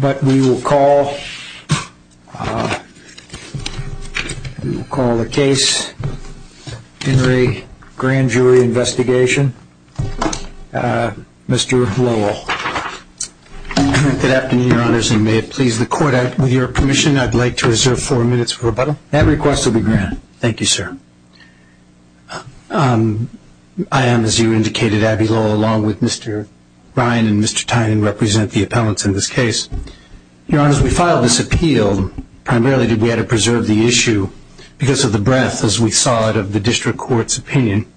But we will call the case Henry Grand Jury Investigation, Mr. Lowell. Good afternoon, Your Honors, and may it please the Court, with your permission, I'd like to reserve four minutes for rebuttal. That request will be granted. Thank you, sir. I am, as you indicated, Abby Lowell, along with Mr. Ryan and Mr. Tynan, who represent the appellants in this case. Your Honors, we filed this appeal primarily because we had to preserve the issue because of the breadth, as we saw it, of the District Court's opinion.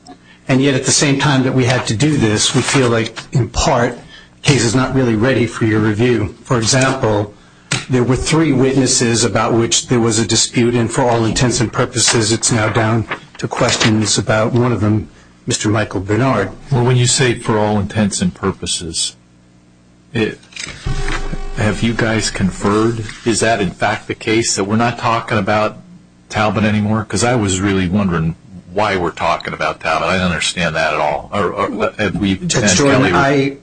And yet, at the same time that we had to do this, we feel like, in part, the case is not really ready for your review. For example, there were three witnesses about which there was a dispute, and for all intents and purposes, it's now down to questions about one of them, Mr. Michael Bernard. Well, when you say, for all intents and purposes, have you guys conferred? Is that, in fact, the case that we're not talking about Talbot anymore? Because I was really wondering why we're talking about Talbot. I don't understand that at all.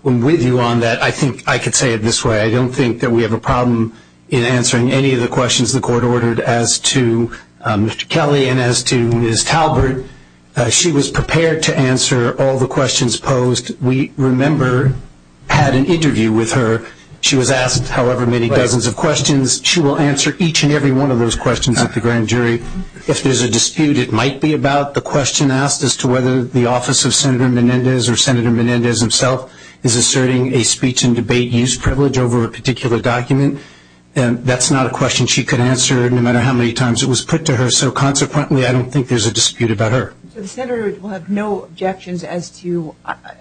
With you on that, I think I could say it this way. I don't think that we have a problem in answering any of the questions the Court ordered as to Mr. Kelly and as to Ms. Talbot. She was prepared to answer all the questions posed. We, remember, had an interview with her. She was asked however many dozens of questions. She will answer each and every one of those questions at the grand jury. If there's a dispute, it might be about the question asked as to whether the office of Senator Menendez or Senator Menendez himself is asserting a speech and debate use privilege over a particular document. That's not a question she could answer, no matter how many times it was put to her. So, consequently, I don't think there's a dispute about her. Senators will have no objections as to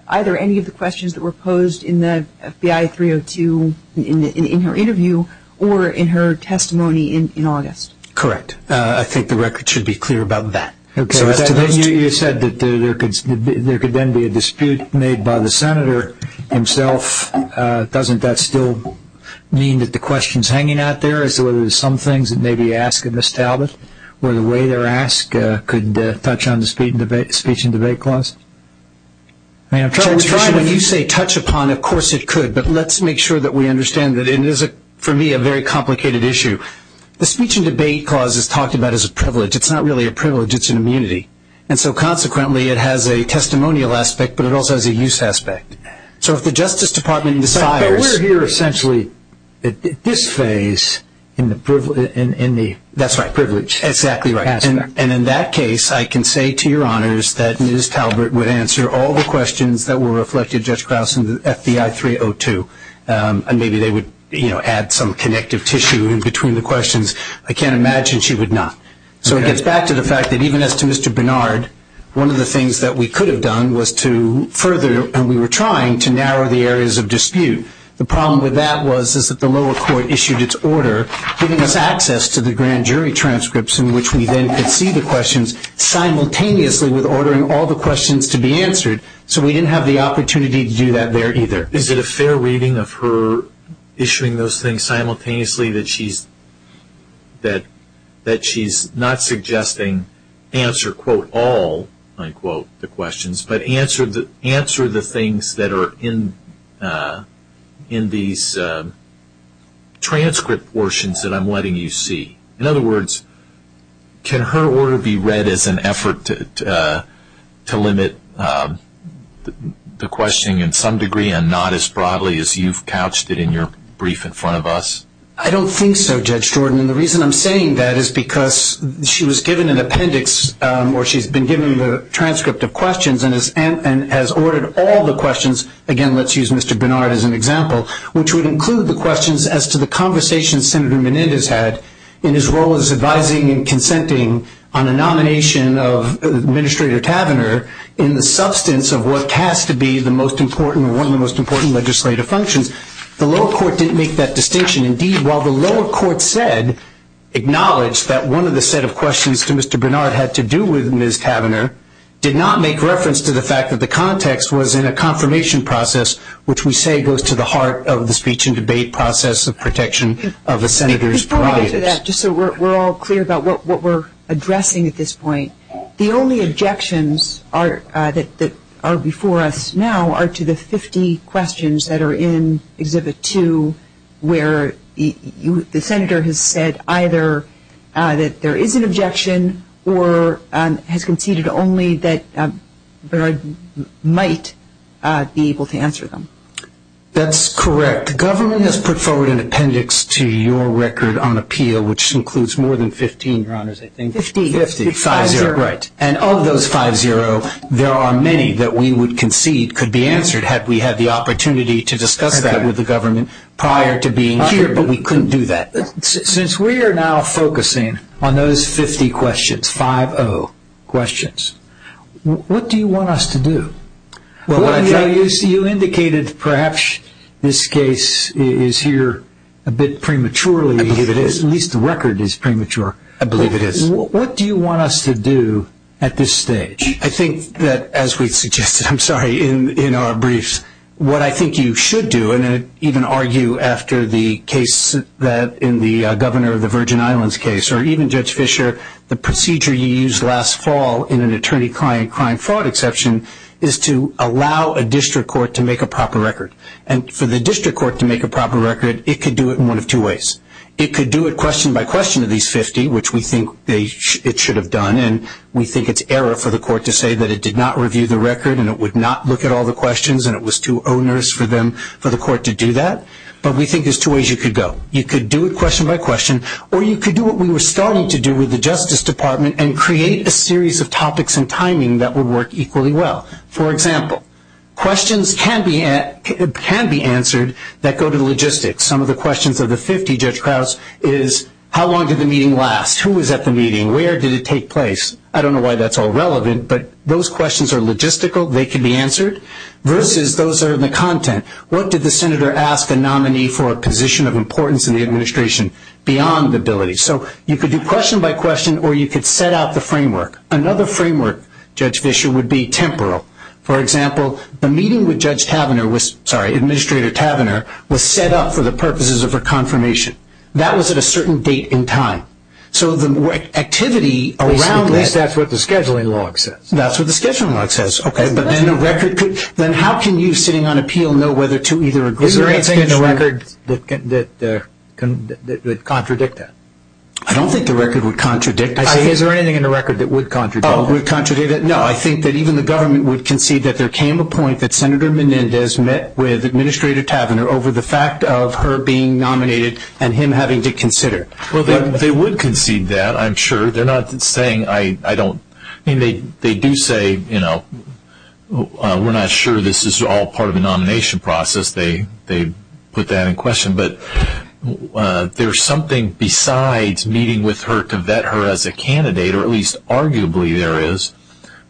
either any of the questions that were posed in the FBI 302, in her interview, or in her testimony in August. Correct. I think the record should be clear about that. Okay. You said that there could then be a dispute made by the Senator himself. Doesn't that still mean that the question's hanging out there as to whether there's some things that may be asked of Ms. Talbot? Or the way they're asked could touch on the speech and debate clause? When you say touch upon, of course it could. But let's make sure that we understand that it is, for me, a very complicated issue. The speech and debate clause is talked about as a privilege. It's not really a privilege. It's an immunity. And so, consequently, it has a testimonial aspect, but it also has a use aspect. So, if the Justice Department desires – But we're here essentially at this phase in the – That's right, privilege. Exactly right. And in that case, I can say to your honors that Ms. Talbot would answer all the questions that were reflected, Judge Krause, in the FBI 302. And maybe they would add some connective tissue in between the questions. I can't imagine she would not. So, it gets back to the fact that even as to Mr. Bernard, one of the things that we could have done was to further – and we were trying to narrow the areas of dispute. The problem with that was is that the lower court issued its order giving us access to the grand jury transcripts in which we then could see the questions simultaneously with ordering all the questions to be answered. So, we didn't have the opportunity to do that there either. Is it a fair reading of her issuing those things simultaneously that she's not suggesting answer, quote, all, unquote, the questions, but answer the things that are in these transcript portions that I'm letting you see? In other words, can her order be read as an effort to limit the questioning in some degree and not as broadly as you've couched it in your brief in front of us? I don't think so, Judge Jordan. And the reason I'm saying that is because she was given an appendix or she's been given the transcript of questions and has ordered all the questions – and his role is advising and consenting on a nomination of Administrator Tavenner in the substance of what has to be the most important or one of the most important legislative functions. The lower court didn't make that distinction. Indeed, while the lower court said – acknowledged that one of the set of questions to Mr. Bernard had to do with Ms. Tavenner, did not make reference to the fact that the context was in a confirmation process, which we say goes to the heart of the speech and debate process of protection of the Senator's prerogatives. Just so we're all clear about what we're addressing at this point, the only objections that are before us now are to the 50 questions that are in Exhibit 2 where the Senator has said either that there is an objection or has conceded only that Bernard might be able to answer them. That's correct. The government has put forward an appendix to your record on the appeal, which includes more than 15, Ron, is it? Fifteen. Fifteen. Five-zero. Right. And of those five-zero, there are many that we would concede could be answered had we had the opportunity to discuss that with the government prior to being here, but we couldn't do that. Since we are now focusing on those 50 questions, 5-0 questions, what do you want us to do? You indicated perhaps this case is here a bit prematurely. I believe it is. At least the record is premature. I believe it is. What do you want us to do at this stage? I think that, as we suggested, I'm sorry, in our briefs, what I think you should do, and I even argue after the case in the Governor of the Virgin Islands case, or even Judge Fischer, the procedure you used last fall in an attorney-client crime fraud exception is to allow a district court to make a proper record. And for the district court to make a proper record, it could do it in one of two ways. It could do it question-by-question of these 50, which we think it should have done, and we think it's error for the court to say that it did not review the record and it would not look at all the questions and it was too onerous for the court to do that, but we think there's two ways you could go. You could do it question-by-question, or you could do what we were starting to do with the Justice Department and create a series of topics and timing that would work equally well. For example, questions can be answered that go to logistics. Some of the questions of the 50, Judge Krause, is how long did the meeting last? Who was at the meeting? Where did it take place? I don't know why that's all relevant, but those questions are logistical. They can be answered. Versus those are in the content. What did the senator ask the nominee for a position of importance in the administration beyond the ability? So you could do question-by-question, or you could set out the framework. Another framework, Judge Fischer, would be temporal. For example, the meeting with Administrator Tavenner was set up for the purposes of a confirmation. That was at a certain date and time. So the activity around that. At least that's what the scheduling log says. That's what the scheduling log says. Then how can you, sitting on appeal, know whether to either agree or disagree? Is there anything in the record that contradict that? I don't think the record would contradict that. Is there anything in the record that would contradict that? No, I think that even the government would concede that there came a point that Senator Menendez met with Administrator Tavenner over the fact of her being nominated and him having to consider. Well, they would concede that, I'm sure. They're not saying I don't. I mean, they do say, you know, we're not sure this is all part of the nomination process. They put that in question. But there's something besides meeting with her to vet her as a candidate, or at least arguably there is,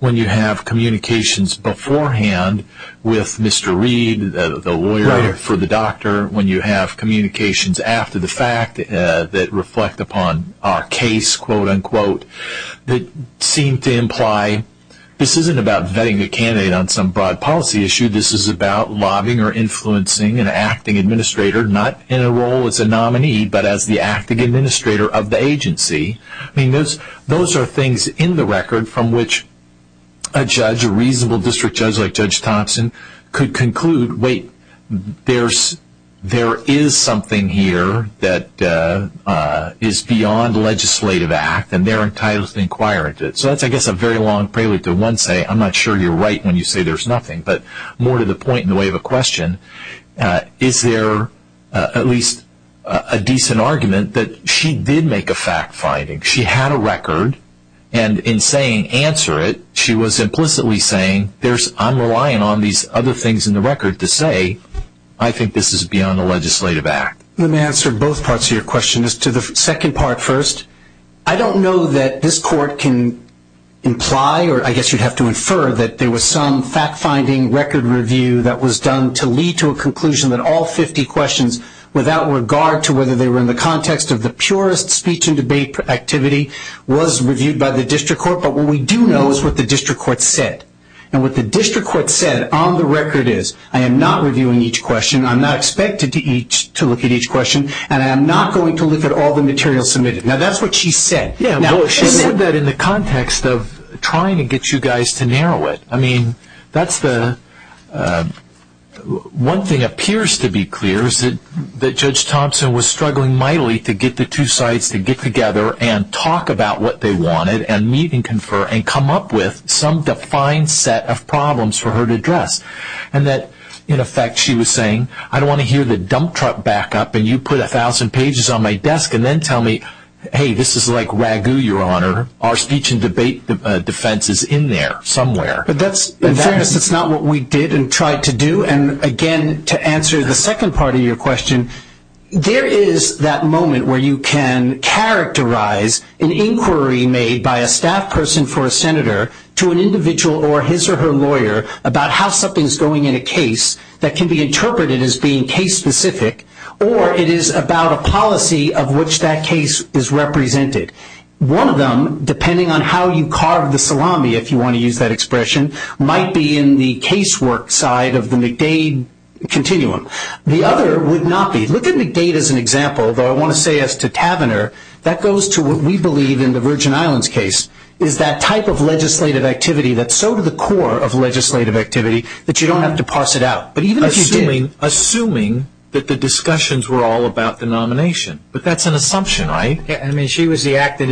when you have communications beforehand with Mr. Reed, the lawyer for the doctor, when you have communications after the fact that reflect upon a case, quote, unquote, that seem to imply this isn't about vetting a candidate on some broad policy issue. This is about lobbying or influencing an acting administrator, not in a role as a nominee, but as the acting administrator of the agency. I mean, those are things in the record from which a judge, a reasonable district judge like Judge Thompson, could conclude, wait, there is something here that is beyond legislative act, and they're entitled to inquire into it. So that's, I guess, a very long prelude to one say, I'm not sure you're right when you say there's nothing. But more to the point in the way of a question, is there at least a decent argument that she did make a fact finding? She had a record, and in saying answer it, she was implicitly saying, I'm relying on these other things in the record to say I think this is beyond a legislative act. Let me answer both parts of your question. To the second part first, I don't know that this court can imply, or I guess you'd have to infer that there was some fact finding record review that was done to lead to a conclusion that all 50 questions, without regard to whether they were in the context of the purest speech and debate activity, was reviewed by the district court. But what we do know is what the district court said. And what the district court said on the record is, I am not reviewing each question, I'm not expected to look at each question, and I'm not going to look at all the material submitted. Now, that's what she said. She said that in the context of trying to get you guys to narrow it. One thing appears to be clear is that Judge Thompson was struggling mightily to get the two sides to get together and talk about what they wanted and meet and confer and come up with some defined set of problems for her to address. And that, in effect, she was saying, I don't want to hear the dump truck back up and you put 1,000 pages on my desk and then tell me, hey, this is like Wagyu, Your Honor. Our speech and debate defense is in there somewhere. But that's not what we did and tried to do. And, again, to answer the second part of your question, there is that moment where you can characterize an inquiry made by a staff person for a senator to an individual or his or her lawyer about how something is going in a case that can be interpreted as being case specific or it is about a policy of which that case is represented. One of them, depending on how you carve the salami, if you want to use that expression, might be in the casework side of the McDade continuum. The other would not be. Look at McDade as an example, but I want to say as to Tavenner, that goes to what we believe in the Virgin Islands case is that type of legislative activity that's so to the core of legislative activity that you don't have to parse it out. Assuming that the discussions were all about the nomination, but that's an assumption, right? I mean, she was the acting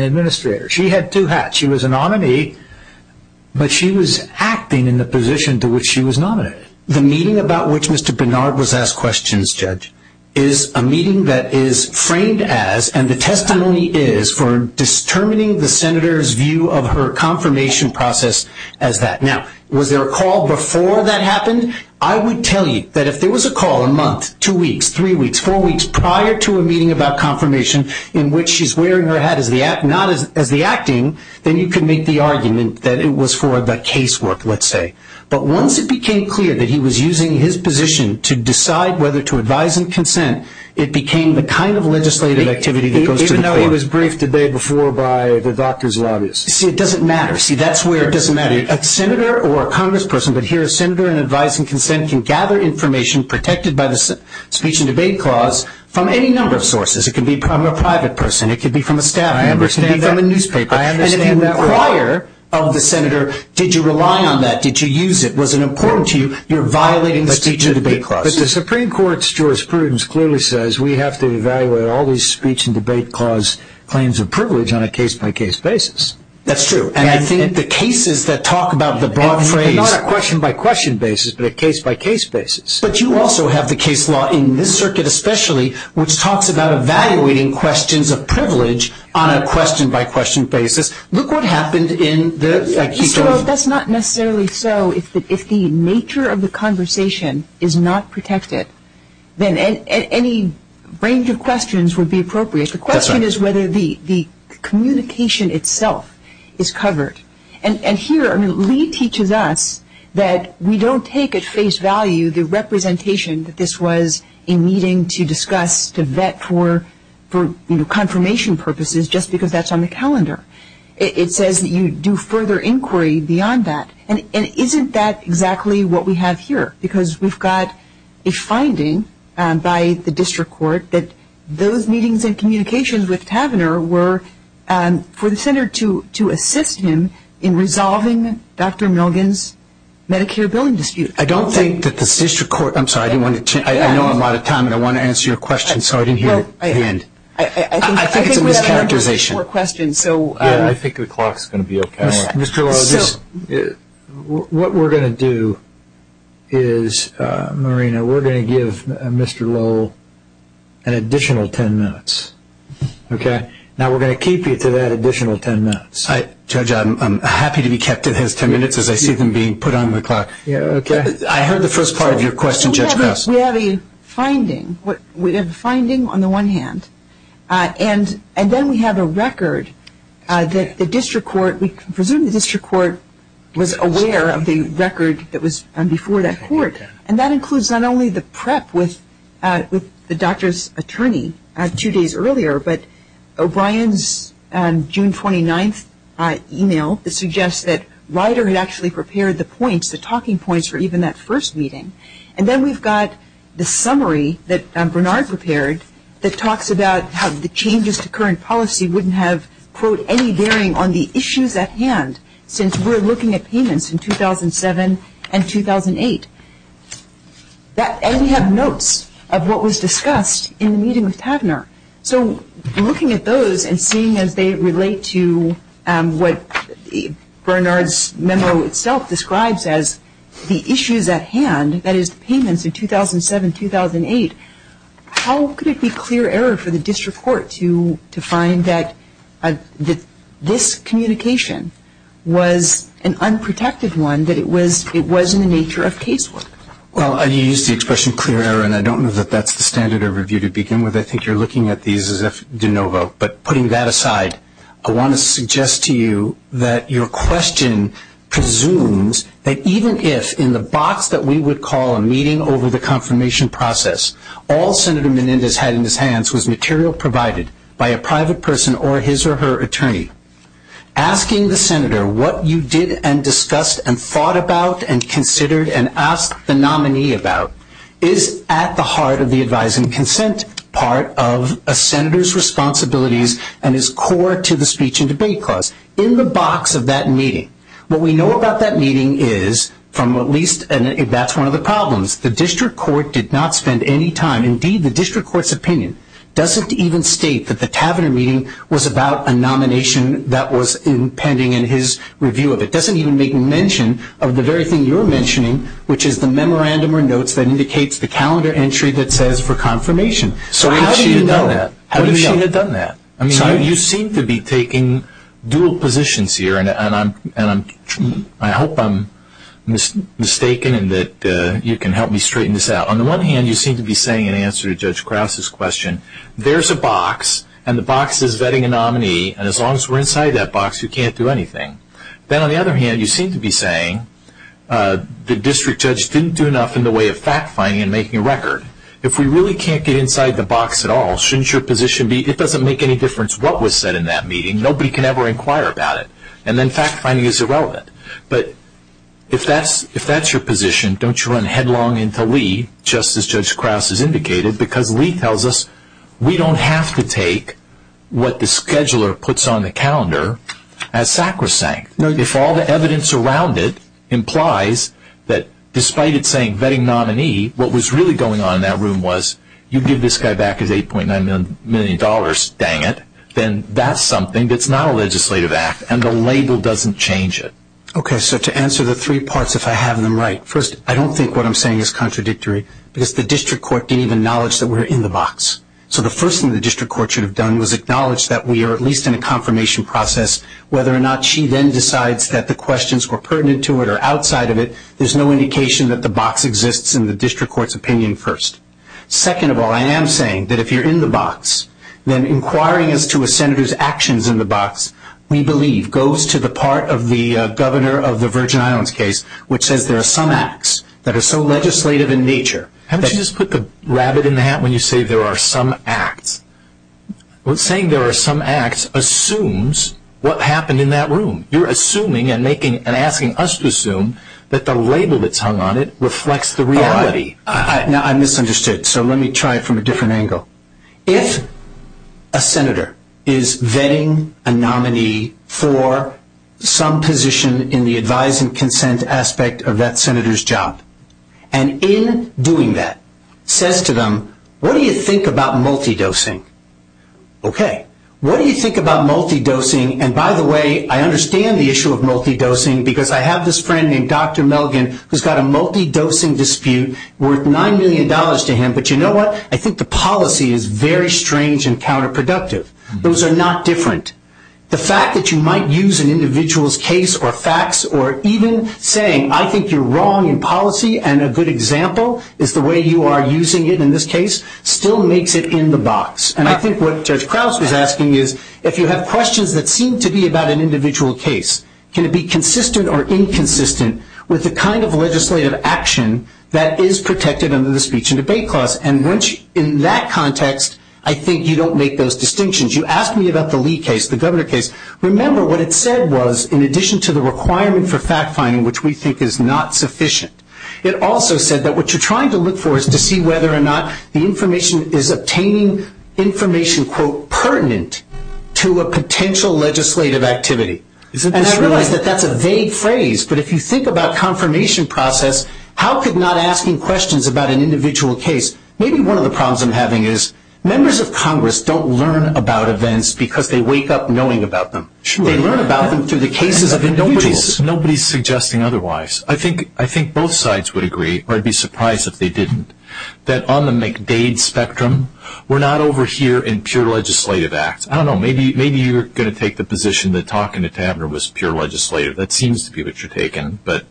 administrator. She had two hats. She was a nominee, but she was acting in the position to which she was nominated. The meeting about which Mr. Bernard was asked questions, Judge, is a meeting that is framed as and the testimony is for determining the senator's view of her confirmation process as that. Now, was there a call before that happened? I would tell you that if there was a call a month, two weeks, three weeks, four weeks prior to a meeting about confirmation in which she's wearing her hat as the acting, then you could make the argument that it was for the casework, let's say. But once it became clear that he was using his position to decide whether to advise and consent, it became the kind of legislative activity that goes to the core. Even though it was briefed the day before by the doctors lobbyists. See, it doesn't matter. See, that's where it doesn't matter. A senator or a congressperson, but here a senator in advising consent, can gather information protected by the speech and debate clause from any number of sources. It could be from a private person. It could be from a staff member. It could be from a newspaper. And if you inquire of the senator, did you rely on that? Did you use it? Was it important to you? You're violating the speech and debate clause. But the Supreme Court's jurisprudence clearly says we have to evaluate all these speech and debate clause claims of privilege on a case-by-case basis. That's true. And I think the cases that talk about the broad frame. Not a question-by-question basis, but a case-by-case basis. But you also have the case law in this circuit especially, which talks about evaluating questions of privilege on a question-by-question basis. Look what happened in the... That's not necessarily so. If the nature of the conversation is not protected, then any range of questions would be appropriate. The question is whether the communication itself is covered. And here Lee teaches us that we don't take at face value the representation that this was a meeting to discuss, to vet for confirmation purposes just because that's on the calendar. It says you do further inquiry beyond that. And isn't that exactly what we have here? Because we've got a finding by the district court that those meetings and communications with Pavaner were for the center to assist him in resolving Dr. Milgan's Medicare billing dispute. I don't think that the district court... I'm sorry. I know I'm out of time, and I want to answer your question, so I didn't hear it at the end. I think we have time for one more question. I think the clock is going to be off camera. Mr. Lowell, what we're going to do is, Marina, we're going to give Mr. Lowell an additional ten minutes. Now we're going to keep you to that additional ten minutes. Judge, I'm happy to be kept at his ten minutes as I see them being put on the clock. I heard the first part of your question just now. We have a finding. We have a finding on the one hand. And then we have a record that the district court... We presume the district court was aware of the record that was before that court. And that includes not only the prep with the doctor's attorney two days earlier, but O'Brien's June 29th email that suggests that Ryder had actually prepared the points, the talking points for even that first meeting. And then we've got the summary that Bernard prepared that talks about how the changes to current policy wouldn't have, quote, any bearing on the issues at hand since we're looking at payments in 2007 and 2008. And we have notes of what was discussed in the meeting with Padner. So looking at those and seeing as they relate to what Bernard's memo itself describes as the issues at hand, that is payments in 2007 and 2008, how could it be clear error for the district court to find that this communication was an unprotected one, that it was in the nature of case law? Well, I used the expression clear error, and I don't know that that's the standard of review to begin with. I think you're looking at these as if de novo. But putting that aside, I want to suggest to you that your question presumes that even if, in the box that we would call a meeting over the confirmation process, all Senator Menendez had in his hands was material provided by a private person or his or her attorney, asking the Senator what you did and discussed and thought about and considered and asked the nominee about is at the heart of the advise and consent part of a Senator's responsibilities and is core to the speech and debate clause. In the box of that meeting, what we know about that meeting is from at least that's one of the problems. The district court did not spend any time. Indeed, the district court's opinion doesn't even state that the tavern meeting was about a nomination that was pending in his review of it. It doesn't even make mention of the very thing you're mentioning, which is the memorandum or notes that indicates the calendar entry that says for confirmation. So how do you know that? How did she have done that? I mean, you seem to be taking dual positions here, and I hope I'm mistaken and that you can help me straighten this out. On the one hand, you seem to be saying in answer to Judge Krause's question, there's a box and the box is vetting a nominee, and as long as we're inside that box, you can't do anything. Then on the other hand, you seem to be saying the district judge didn't do enough in the way of fact-finding and making a record. If we really can't get inside the box at all, shouldn't your position be, it doesn't make any difference what was said in that meeting, nobody can ever inquire about it, and then fact-finding is irrelevant. But if that's your position, don't you run headlong into Lee, just as Judge Krause has indicated, because Lee tells us we don't have to take what the scheduler puts on the calendar as sacrosanct. If all the evidence around it implies that despite it saying vetting nominee, what was really going on in that room was you give this guy back his $8.9 million, dang it, then that's something that's not a legislative act, and the label doesn't change it. Okay, so to answer the three parts, if I have them right, first, I don't think what I'm saying is contradictory, because the district court didn't even acknowledge that we're in the box. So the first thing the district court should have done was acknowledge that we are at least in a confirmation process. Whether or not she then decides that the questions were pertinent to it or outside of it, there's no indication that the box exists in the district court's opinion first. Second of all, I am saying that if you're in the box, then inquiring as to a senator's actions in the box, we believe goes to the part of the governor of the Virgin Islands case, which says there are some acts that are so legislative in nature. Haven't you just put the rabbit in the hat when you say there are some acts? Well, saying there are some acts assumes what happened in that room. You're assuming and asking us to assume that the label that's hung on it reflects the reality. Now, I misunderstood, so let me try it from a different angle. If a senator is vetting a nominee for some position in the advise and consent aspect of that senator's job, and in doing that says to them, what do you think about multidosing? Okay. What do you think about multidosing? And, by the way, I understand the issue of multidosing because I have this friend named Dr. Melvin who's got a multidosing dispute worth $9 million to him. But you know what? I think the policy is very strange and counterproductive. Those are not different. The fact that you might use an individual's case or facts or even saying I think you're wrong in policy and a good example is the way you are using it in this case still makes it in the box. And I think what Judge Krause was asking is if you have questions that seem to be about an individual case, can it be consistent or inconsistent with the kind of legislative action that is protected under the speech and debate clause? And in that context, I think you don't make those distinctions. You asked me about the Lee case, the governor case. Remember what it said was in addition to the requirement for fact-finding, which we think is not sufficient, it also said that what you're trying to look for is to see whether or not the information is obtaining information, quote, pertinent to a potential legislative activity. And I realize that that's a vague phrase, but if you think about confirmation process, how could not asking questions about an individual case? Maybe one of the problems I'm having is members of Congress don't learn about events because they wake up knowing about them. They learn about them through the cases of individuals. Nobody is suggesting otherwise. I think both sides would agree, or I'd be surprised if they didn't, that on the McDade spectrum, we're not over here in pure legislative acts. I don't know, maybe you're going to take the position that talking to Tavner was pure legislative. That seems to be what you're taking, but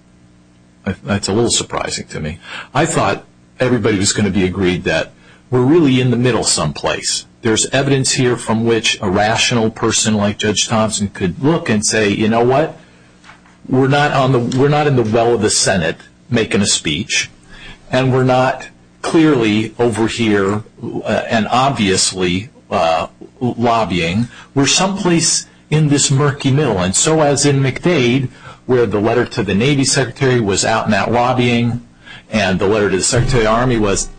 that's a little surprising to me. I thought everybody was going to be agreed that we're really in the middle someplace. There's evidence here from which a rational person like Judge Thompson could look and say, you know what, we're not in the well of the Senate making a speech, and we're not clearly over here and obviously lobbying, we're someplace in this murky middle. And so as in McDade where the letter to the Navy Secretary was out and out lobbying and the letter to the Secretary of the Army was,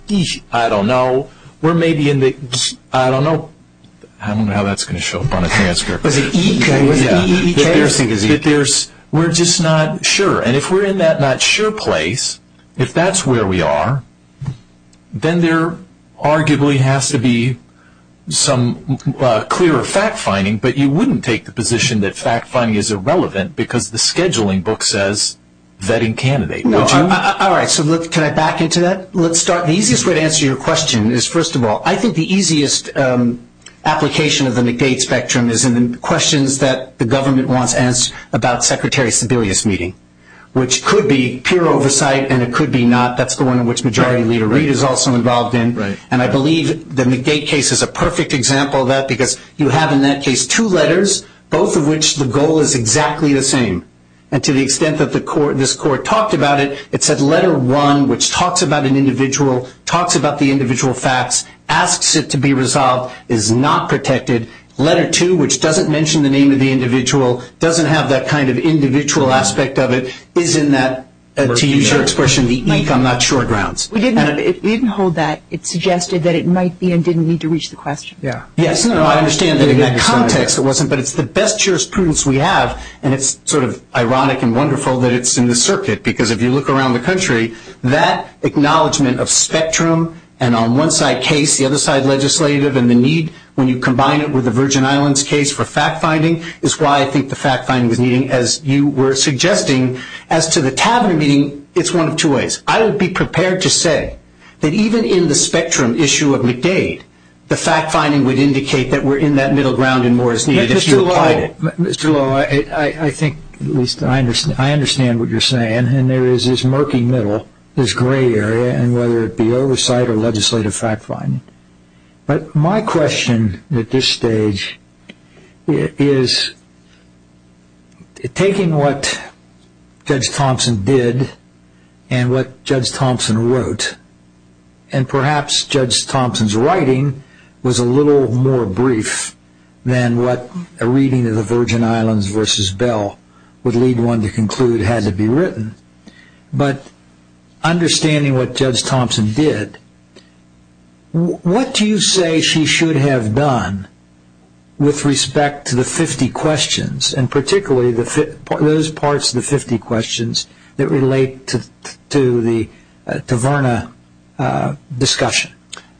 I don't know, we're maybe in the, I don't know. I don't know how that's going to show up on a transcript. We're just not sure. And if we're in that not sure place, if that's where we are, then there arguably has to be some clear fact-finding, but you wouldn't take the position that fact-finding is irrelevant because the scheduling book says vetting candidates. All right, so can I back into that? Let's start. The easiest way to answer your question is, first of all, I think the easiest application of the McDade spectrum is in the questions that the government wants about Secretary Sebelius' meeting, which could be pure oversight and it could be not. That's the one in which Majority Leader Reid is also involved in. And I believe the McDade case is a perfect example of that because you have in that case two letters, both of which the goal is exactly the same. And to the extent that this court talked about it, it said letter one, which talks about an individual, talks about the individual facts, asks it to be resolved, is not protected. Letter two, which doesn't mention the name of the individual, doesn't have that kind of individual aspect of it, is in that, to use your expression, the eek, I'm not sure, grounds. We didn't hold that. It suggested that it might be and didn't need to reach the question. Yes, I understand that in that context it wasn't, but it's the best jurisprudence we have, and it's sort of ironic and wonderful that it's in the circuit because if you look around the country, that acknowledgment of spectrum and on one side case, the other side legislative, and the need when you combine it with the Virgin Islands case for fact-finding is why I think the fact-finding was needed, as you were suggesting. As to the tabular meeting, it's one of two ways. I would be prepared to say that even in the spectrum issue of McDade, the fact-finding would indicate that we're in that middle ground and more is needed if you apply it. Mr. Long, I think I understand what you're saying, and there is this murky middle, this gray area, and whether it be oversight or legislative fact-finding. But my question at this stage is taking what Judge Thompson did and what Judge Thompson wrote, and perhaps Judge Thompson's writing was a little more brief than what a reading of the Virgin Islands versus Bell would lead one to conclude had to be written. But understanding what Judge Thompson did, what do you say she should have done with respect to the 50 questions and particularly those parts of the 50 questions that relate to the Taverna discussion?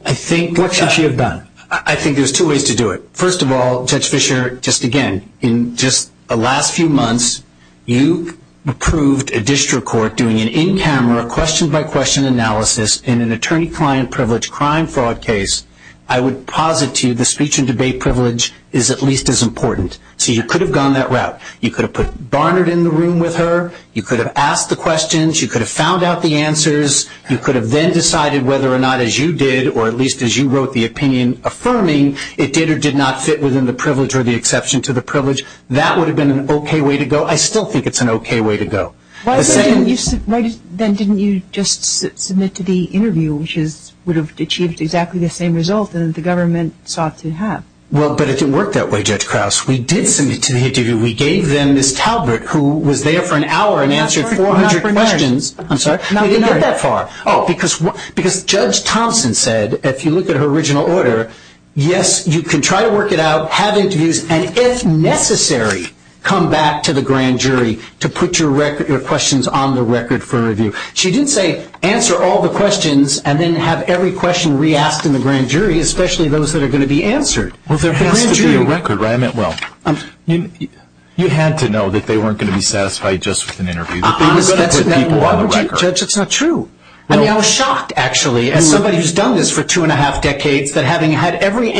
What should she have done? I think there's two ways to do it. First of all, Judge Fischer, just again, in just the last few months, you approved a district court doing an in-camera question-by-question analysis in an attorney-client privilege crime fraud case. I would posit to you the speech and debate privilege is at least as important. So you could have gone that route. You could have put Barnard in the room with her. You could have asked the questions. You could have found out the answers. You could have then decided whether or not, as you did or at least as you wrote the opinion affirming, it did or did not fit within the privilege or the exception to the privilege. That would have been an okay way to go. I still think it's an okay way to go. Then didn't you just submit to the interview, which would have achieved exactly the same result that the government sought to have? Well, but it didn't work that way, Judge Krause. We did submit to the interview. We gave them Ms. Talbert, who was there for an hour and answered 400 questions. I'm sorry? Not that far. Oh, because Judge Thompson said, if you look at her original order, yes, you can try to work it out, have interviews, and, if necessary, come back to the grand jury to put your questions on the record for review. She didn't say answer all the questions and then have every question re-asked in the grand jury, especially those that are going to be answered. Well, there has to be a record, right? I meant, well, you had to know that they weren't going to be satisfied just with an interview. That's not true. I mean, I was shocked, actually, as somebody who's done this for two and a half decades, that having had every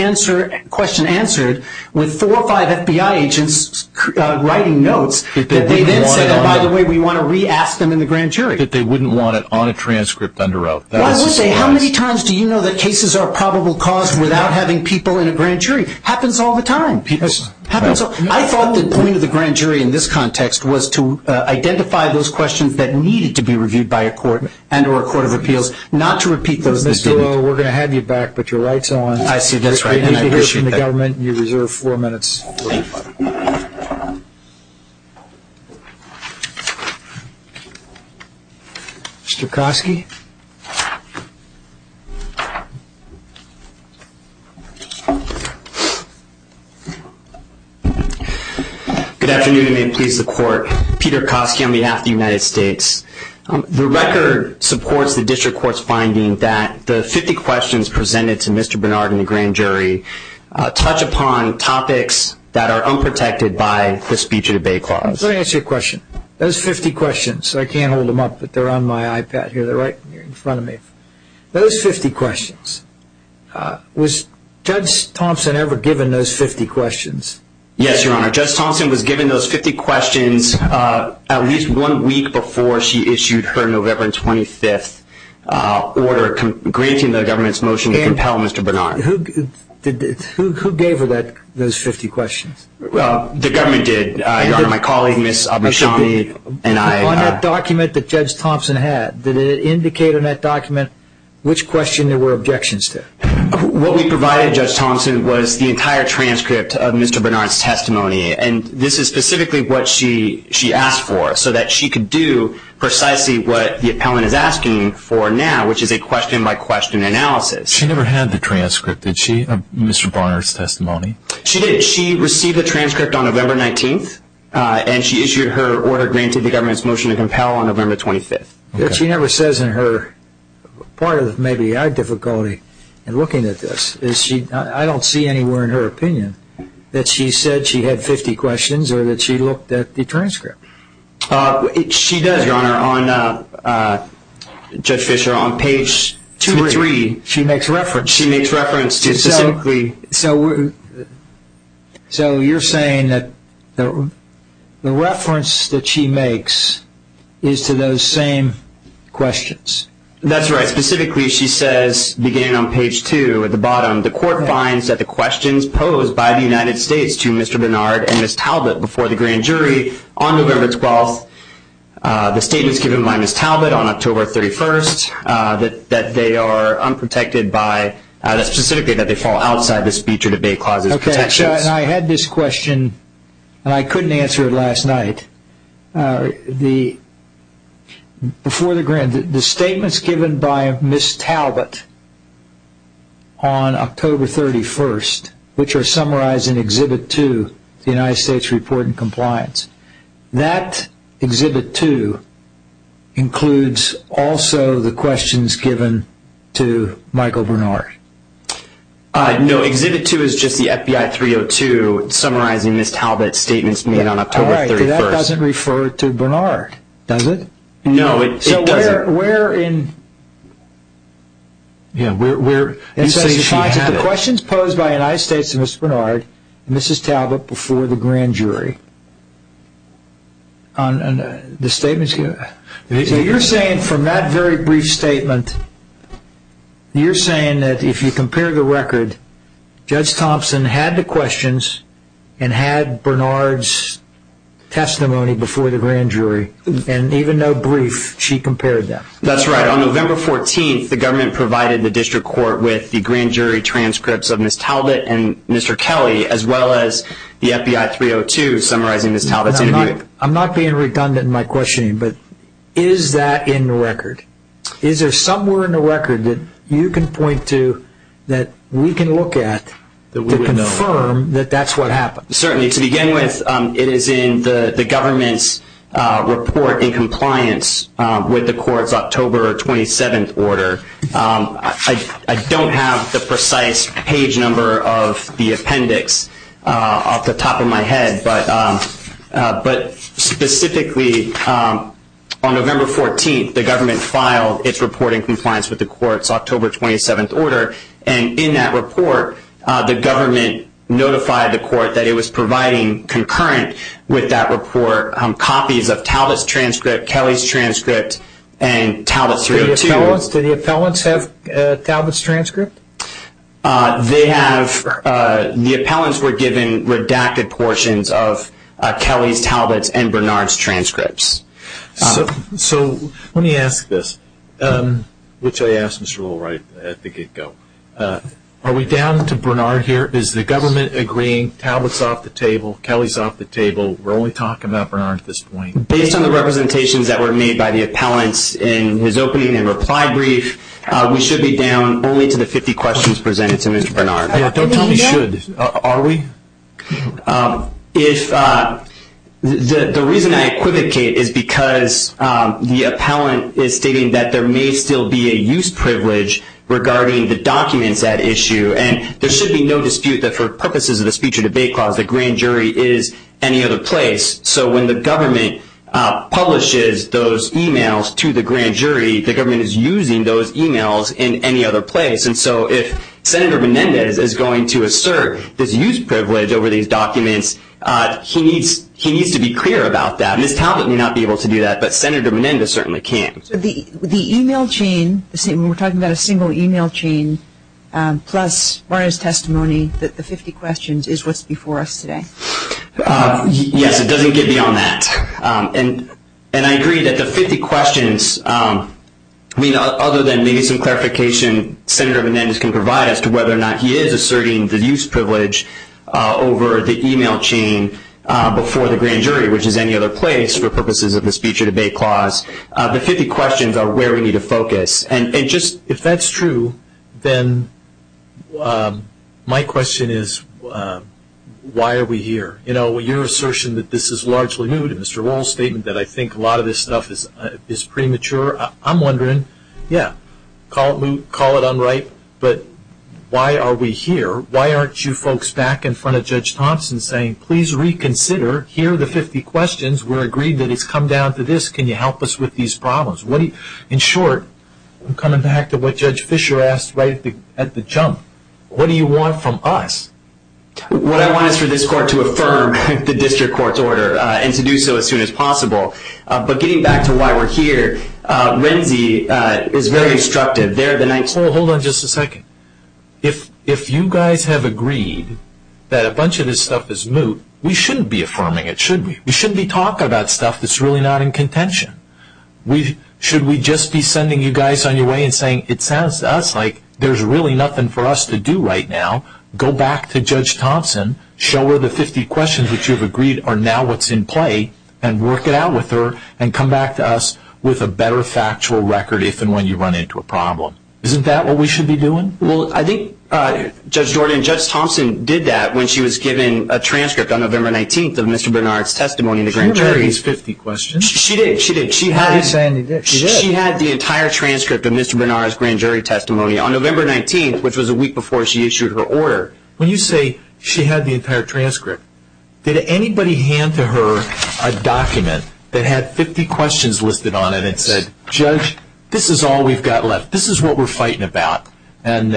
question answered with four or five FBI agents writing notes, they didn't say, by the way, we want to re-ask them in the grand jury. That they wouldn't want it on a transcript under oath. Why wouldn't they? How many times do you know that cases are probable cause without having people in a grand jury? Happens all the time. I thought the point of the grand jury in this context was to identify those questions that needed to be reviewed by a court and or a court of appeals, not to repeat those decisions. Mr. Lowe, we're going to have you back with your rights on. I see. That's right. I appreciate that. You're in the government and you reserve four minutes. Mr. Kosky? Good afternoon, and please report. Peter Kosky on behalf of the United States. The record supports the district court's finding that the 50 questions presented to Mr. Bernard in the grand jury touch upon topics that are unprotected by the speech and debate clause. Let me ask you a question. Those 50 questions, I can't hold them up, but they're on my iPad. They're right in front of me. Those 50 questions, was Judge Thompson ever given those 50 questions? Yes, Your Honor. Judge Thompson was given those 50 questions at least one week before she issued her November 25th order, granting the government's motion to compel Mr. Bernard. Who gave her those 50 questions? The government did. My colleague, Ms. Abishami, and I. On that document that Judge Thompson had, did it indicate in that document which question there were objections to? What we provided Judge Thompson was the entire transcript of Mr. Bernard's testimony, and this is specifically what she asked for so that she could do precisely what the appellant is asking for now, which is a question-by-question analysis. She never had the transcript, did she, of Mr. Bernard's testimony? She did. She received the transcript on November 19th, and she issued her order granting the government's motion to compel on November 25th. What she never says in her, part of maybe my difficulty in looking at this, is I don't see anywhere in her opinion that she said she had 50 questions or that she looked at the transcript. She does, Your Honor, on page 3. She makes reference. She makes reference specifically. So you're saying that the reference that she makes is to those same questions. That's right. Specifically, she says, beginning on page 2 at the bottom, the court finds that the questions posed by the United States to Mr. Bernard and Ms. Talbot before the grand jury on November 12th, the statements given by Ms. Talbot on October 31st, that they are unprotected by, specifically that they fall outside the speech or debate clauses. Okay. And I had this question, and I couldn't answer it last night. Before the grand, the statements given by Ms. Talbot on October 31st, which are summarized in Exhibit 2, the United States Report on Compliance, that Exhibit 2 includes also the questions given to Michael Bernard. No. Exhibit 2 is just the FBI 302 summarizing Ms. Talbot's statements made on October 31st. All right. But that doesn't refer to Bernard, does it? No, it doesn't. So where in the questions posed by the United States to Ms. Bernard, Ms. Talbot before the grand jury? The statements given? You're saying from that very brief statement, you're saying that if you compare the record, Judge Thompson had the questions and had Bernard's testimony before the grand jury, and even though brief, she compared them. That's right. On November 14th, the government provided the district court with the grand jury transcripts of Ms. Talbot and Mr. Kelly as well as the FBI 302 summarizing Ms. Talbot's statement. I'm not being redundant in my questioning, but is that in the record? Is there somewhere in the record that you can point to that we can look at to confirm that that's what happened? Certainly. To begin with, it is in the government's report in compliance with the court's October 27th order. I don't have the precise page number of the appendix off the top of my head, but specifically on November 14th the government filed its report in compliance with the court's October 27th order, and in that report the government notified the court that it was providing concurrent with that report copies of Talbot's transcript, Kelly's transcript, and Talbot's 302. Do the appellants have Talbot's transcript? They have. The appellants were given redacted portions of Kelly's, Talbot's, and Bernard's transcripts. So let me ask this, which I asked Ms. Shule right at the get-go. Are we down to Bernard here? Is the government agreeing Talbot's off the table, Kelly's off the table? We're only talking about Bernard at this point. Based on the representations that were made by the appellants in his opening and reply brief, we should be down only to the 50 questions presented to Mr. Bernard. Don't tell me you should. Are we? The reason I equivocate is because the appellant is stating that there may still be a use privilege regarding the documents at issue, and there should be no dispute that for purposes of a speech or debate clause, the grand jury is any other place. So when the government publishes those e-mails to the grand jury, the government is using those e-mails in any other place. And so if Senator Menendez is going to assert his use privilege over these documents, he needs to be clear about that. Ms. Talbot may not be able to do that, but Senator Menendez certainly can. So the e-mail chain, we're talking about a single e-mail chain plus Bernard's testimony, the 50 questions is what's before us today? Yes, it doesn't get beyond that. And I agree that the 50 questions, I mean, other than maybe some clarification Senator Menendez can provide as to whether or not he is asserting the use privilege over the e-mail chain before the grand jury, which is any other place for purposes of a speech or debate clause, the 50 questions are where we need to focus. If that's true, then my question is, why are we here? You know, your assertion that this is largely moot, and Mr. Rohl's statement that I think a lot of this stuff is premature, I'm wondering, yeah, call it moot, call it unright, but why are we here? Why aren't you folks back in front of Judge Thompson saying, please reconsider. Here are the 50 questions. We're agreed that it's come down to this. Can you help us with these problems? In short, coming back to what Judge Fischer asked right at the jump, what do you want from us? What I want is for this court to affirm the district court's order and to do so as soon as possible. But getting back to why we're here, Lindsay is very instructive. Hold on just a second. If you guys have agreed that a bunch of this stuff is moot, we shouldn't be affirming it, should we? We shouldn't be talking about stuff that's really not in contention. Should we just be sending you guys on your way and saying, it sounds to us like there's really nothing for us to do right now, go back to Judge Thompson, show her the 50 questions that you've agreed are now what's in play, and work it out with her and come back to us with a better factual record if and when you run into a problem. Isn't that what we should be doing? Well, I think Judge Jordan and Judge Thompson did that when she was given a transcript on November 19th of Mr. Bernard's testimony. She did. She had the entire transcript of Mr. Bernard's grand jury testimony on November 19th, which was a week before she issued her order. When you say she had the entire transcript, did anybody hand to her a document that had 50 questions listed on it and said, Judge, this is all we've got left, this is what we're fighting about, and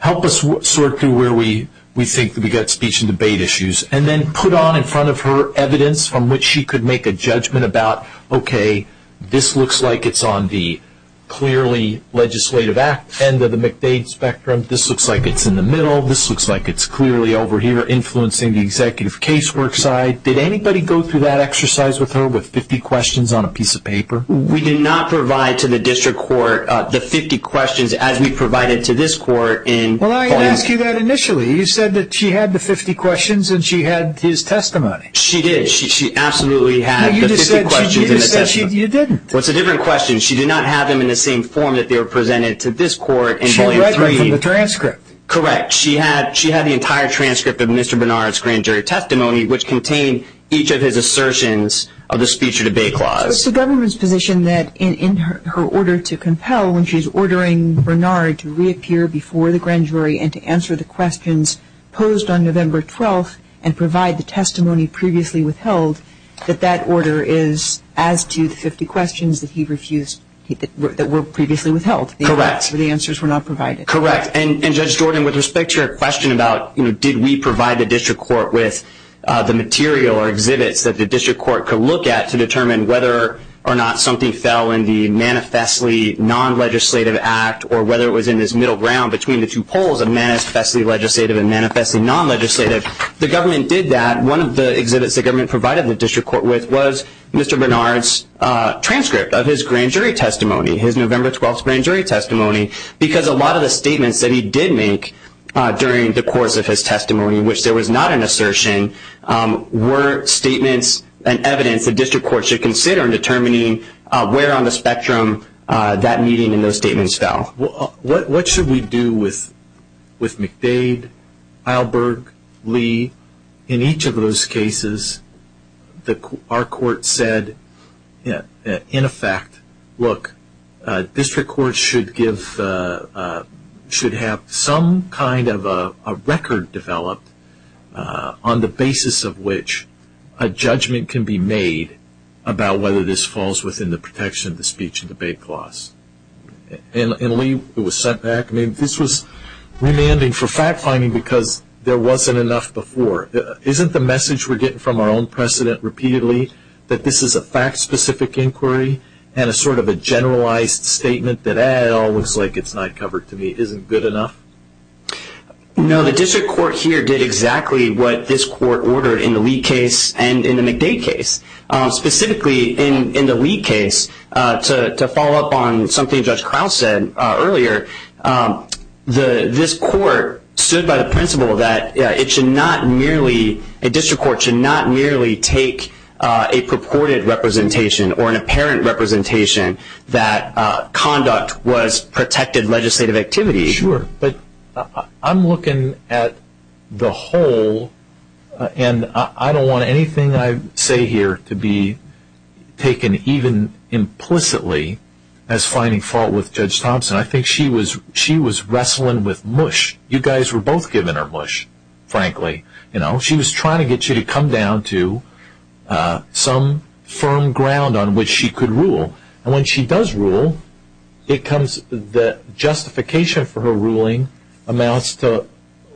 help us sort through where we think we've got speech and debate issues, and then put on in front of her evidence from which she could make a judgment about, okay, this looks like it's on the clearly legislative end of the McDade spectrum, this looks like it's in the middle, this looks like it's clearly over here, influencing the executive casework side. Did anybody go through that exercise with her with 50 questions on a piece of paper? We did not provide to the district court the 50 questions as we provided to this court. Well, I asked you that initially. You said that she had the 50 questions and she had his testimony. She did. She absolutely had the 50 questions. No, you just said she did his testimony. You didn't. Well, it's a different question. She did not have them in the same form that they were presented to this court. She had the transcript. Correct. She had the entire transcript of Mr. Bernard's grand jury testimony, which contained each of his assertions of the speech and debate clause. It's the government's position that in her order to compel, when she's ordering Bernard to reappear before the grand jury and to answer the questions posed on November 12th and provide the testimony previously withheld, that that order is as to the 50 questions that were previously withheld. Correct. The answers were not provided. Correct. And, Judge Jordan, with respect to your question about, you know, did we provide the district court with the material or exhibits that the district court could look at to determine whether or not something fell in the manifestly non-legislative act or whether it was in this middle ground between the two poles of manifestly legislative and manifestly non-legislative, the government did that. One of the exhibits the government provided the district court with was Mr. Bernard's transcript of his grand jury testimony, his November 12th grand jury testimony, because a lot of the statements that he did make during the course of his testimony, which there was not an assertion, were statements and evidence the district court should consider in determining where on the spectrum that meeting and those statements fell. What should we do with McDade, Eilberg, Lee? In each of those cases, our court said, in effect, look, the district court should have some kind of a record developed on the basis of which a judgment can be made about whether this falls within the protection of the speech and debate clause. And, Lee, it was sent back. I mean, this was remanding for fact-finding because there wasn't enough before. Isn't the message we're getting from our own precedent repeatedly that this is a fact-specific inquiry and a sort of a generalized statement that, eh, it all looks like it's not covered to me, isn't good enough? No, the district court here did exactly what this court ordered in the Lee case and in the McDade case. Specifically, in the Lee case, to follow up on something Judge Kyle said earlier, this court stood by the principle that it should not merely, a district court should not merely take a purported representation or an apparent representation that conduct was protected legislative activity. Sure, but I'm looking at the whole, and I don't want anything I say here to be taken even implicitly as finding fault with Judge Thompson. I think she was wrestling with mush. You guys were both given her mush, frankly. You know, she was trying to get you to come down to some firm ground on which she could rule. And when she does rule, the justification for her ruling amounts to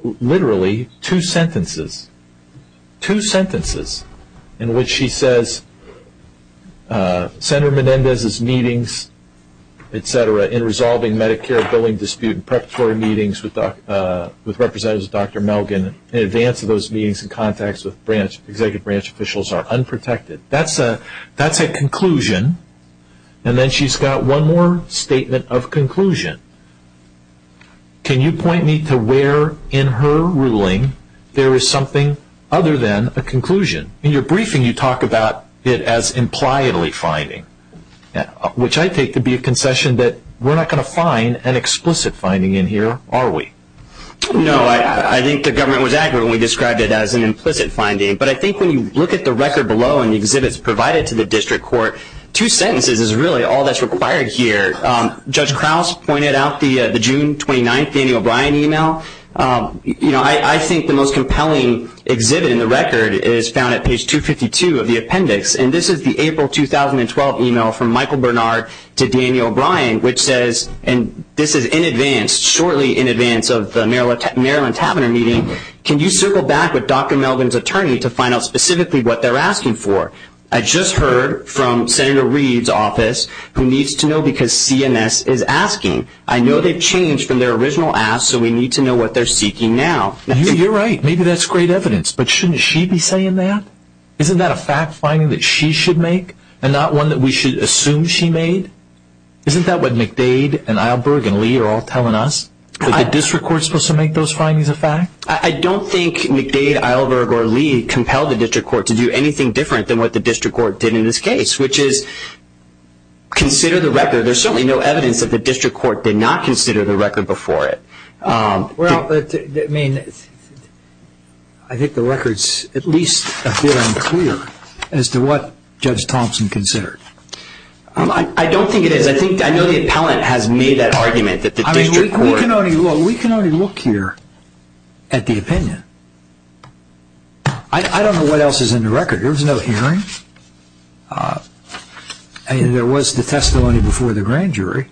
literally two sentences, two sentences, in which she says Senator Menendez's meetings, et cetera, in resolving Medicare billing dispute and preparatory meetings with representatives of Dr. Melgen, in advance of those meetings and contacts with branch, executive branch officials, are unprotected. That's a conclusion. And then she's got one more statement of conclusion. Can you point me to where in her ruling there is something other than a conclusion? In your briefing, you talk about it as impliedly finding, which I take to be a concession that we're not going to find an explicit finding in here, are we? No, I think the government was accurate when we described it as an implicit finding. But I think when you look at the record below and the exhibits provided to the district court, two sentences is really all that's required here. Judge Krause pointed out the June 29th Daniel Bryan email. You know, I think the most compelling exhibit in the record is found at page 252 of the appendix, and this is the April 2012 email from Michael Bernard to Daniel Bryan, which says, and this is in advance, shortly in advance of the Maryland Taverner meeting, can you circle back with Dr. Melgen's attorney to find out specifically what they're asking for? I just heard from Senator Reed's office who needs to know because CMS is asking. I know they've changed from their original ask, so we need to know what they're seeking now. You're right. Maybe that's great evidence, but shouldn't she be saying that? Isn't that a fact finding that she should make and not one that we should assume she made? Isn't that what McDade and Eilberg and Lee are all telling us? Is the district court supposed to make those findings a fact? I don't think McDade, Eilberg, or Lee compelled the district court to do anything different than what the district court did in this case, which is consider the record. There's certainly no evidence that the district court did not consider the record before it. Well, I mean, I think the record's at least a bit unclear as to what Judge Thompson considered. I don't think it is. I know the appellant has made that argument that the district court. We can already look here at the opinion. I don't know what else is in the record. There was no hearing. And there was the testimony before the grand jury.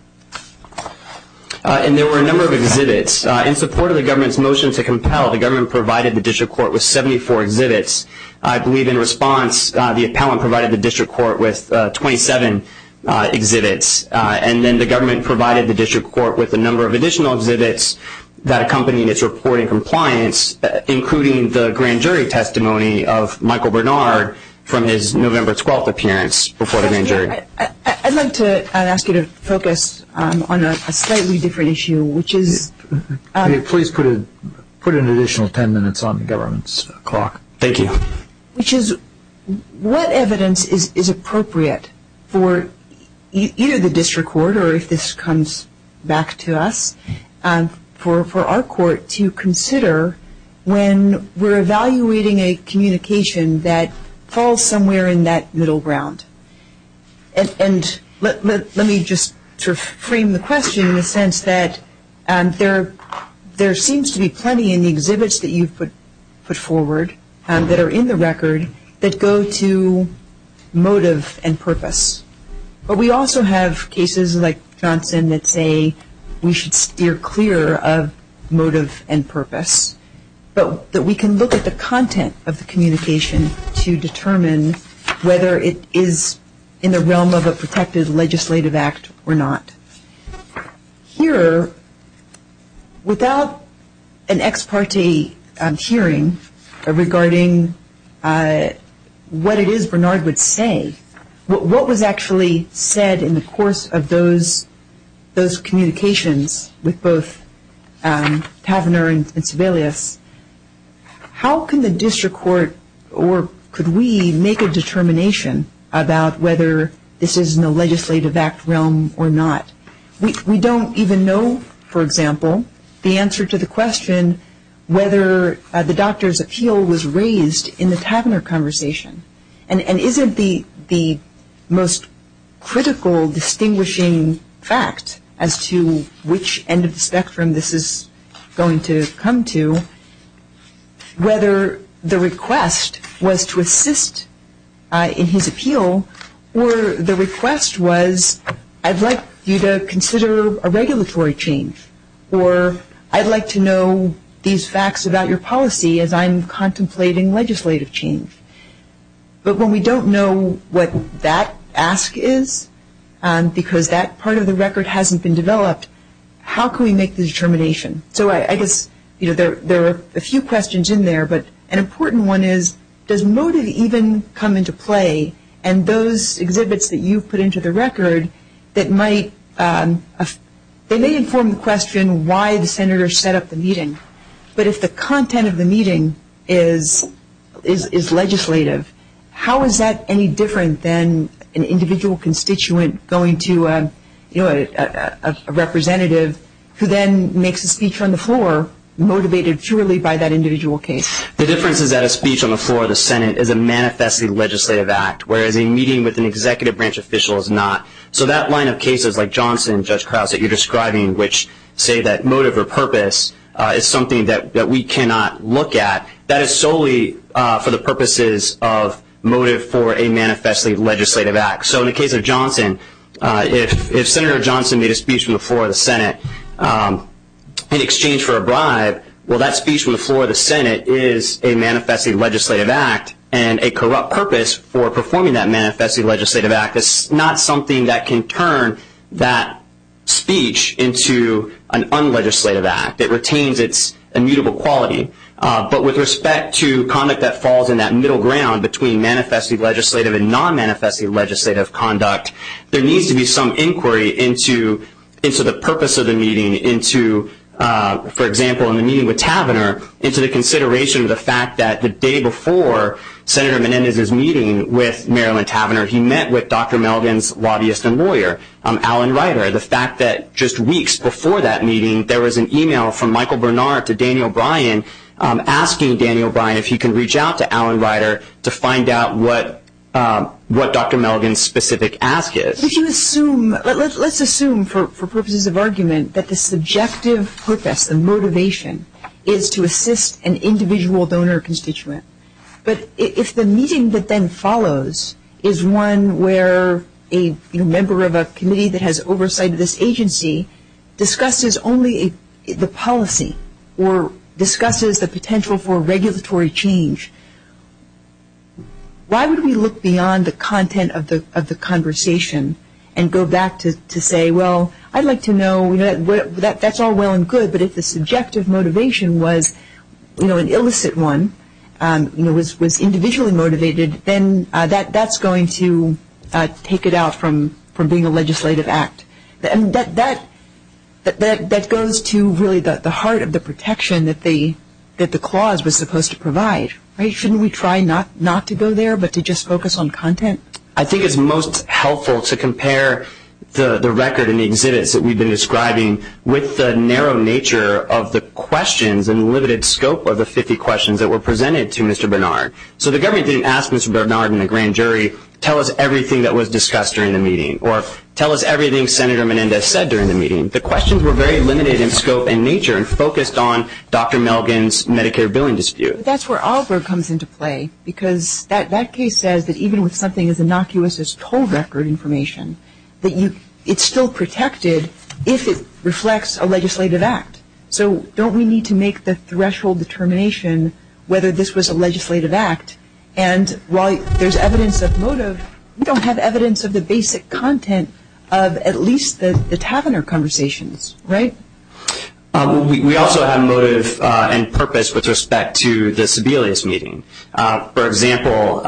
And there were a number of exhibits. In support of the government's motion to compel, the government provided the district court with 74 exhibits. I believe in response, the appellant provided the district court with 27 exhibits, and then the government provided the district court with a number of additional exhibits that accompanied its report in compliance, including the grand jury testimony of Michael Bernard from his November 12th appearance before the grand jury. I'd like to ask you to focus on a slightly different issue, which is... Can you please put an additional ten minutes on the government's clock? Thank you. Which is, what evidence is appropriate for either the district court, or if this comes back to us, for our court to consider when we're evaluating a communication that falls somewhere in that middle ground? And let me just frame the question in the sense that there seems to be plenty in the exhibits that you put forward that are in the record that go to motive and purpose. But we also have cases like Johnson that say we should steer clear of motive and purpose, so that we can look at the content of the communication to determine whether it is in the realm of a protective legislative act or not. Here, without an ex parte hearing regarding what it is Bernard would say, what was actually said in the course of those communications with both Tavener and Sebelius, how can the district court, or could we, make a determination about whether this is in the legislative act realm or not? We don't even know, for example, the answer to the question whether the doctor's appeal was raised in the Tavener conversation. And isn't the most critical distinguishing fact as to which end of the spectrum this is going to come to, whether the request was to assist in his appeal, or the request was, I'd like you to consider a regulatory change, or I'd like to know these facts about your policy as I'm contemplating legislative change. But when we don't know what that ask is, because that part of the record hasn't been developed, how can we make the determination? So I guess there are a few questions in there, but an important one is, does motive even come into play? And those exhibits that you put into the record, they may inform the question why the senator set up the meeting, but if the content of the meeting is legislative, how is that any different than an individual constituent going to a representative who then makes a speech on the floor motivated purely by that individual case? The difference is that a speech on the floor of the Senate is a manifestly legislative act, whereas a meeting with an executive branch official is not. So that line of cases like Johnson and Judge Krause that you're describing, which say that motive or purpose is something that we cannot look at, that is solely for the purposes of motive for a manifestly legislative act. So in the case of Johnson, if Senator Johnson made a speech on the floor of the Senate in exchange for a bribe, well, that speech on the floor of the Senate is a manifestly legislative act and a corrupt purpose for performing that manifestly legislative act. It's not something that can turn that speech into an unlegislative act. It retains its immutable quality. But with respect to conduct that falls in that middle ground between manifestly legislative and non-manifestly legislative conduct, there needs to be some inquiry into the purpose of the meeting, into, for example, in the meeting with Tavenner, into the consideration of the fact that the day before Senator Menendez's meeting with Marilyn Tavenner, he met with Dr. Melvin's lobbyist and lawyer, Alan Ryder. The fact that just weeks before that meeting there was an e-mail from Michael Bernard to Daniel Bryan asking Daniel Bryan if he could reach out to Alan Ryder to find out what Dr. Melvin's specific ask is. Let's assume for purposes of argument that the subjective purpose, the motivation, is to assist an individual donor or constituent. But if the meeting that then follows is one where a member of a committee that has oversight of this agency discusses only the policy or discusses the potential for regulatory change, why would we look beyond the content of the conversation and go back to say, well, I'd like to know, that's all well and good, but if the subjective motivation was an illicit one, was individually motivated, then that's going to take it out from being a legislative act. And that goes to really the heart of the protection that the clause was supposed to provide. Shouldn't we try not to go there but to just focus on content? I think it's most helpful to compare the record and the exodus that we've been describing with the narrow nature of the questions and limited scope of the 50 questions that were presented to Mr. Bernard. So the government didn't ask Mr. Bernard and the grand jury, tell us everything that was discussed during the meeting or tell us everything Senator Menendez said during the meeting. The questions were very limited in scope and nature and focused on Dr. Melvin's Medicare billing dispute. That's where Alford comes into play because that case says that even with something as innocuous as toll record information, it's still protected if it reflects a legislative act. So don't we need to make the threshold determination whether this was a legislative act? And while there's evidence of motive, we don't have evidence of the basic content of at least the Taverner conversations, right? We also have motive and purpose with respect to the Sebelius meeting. For example,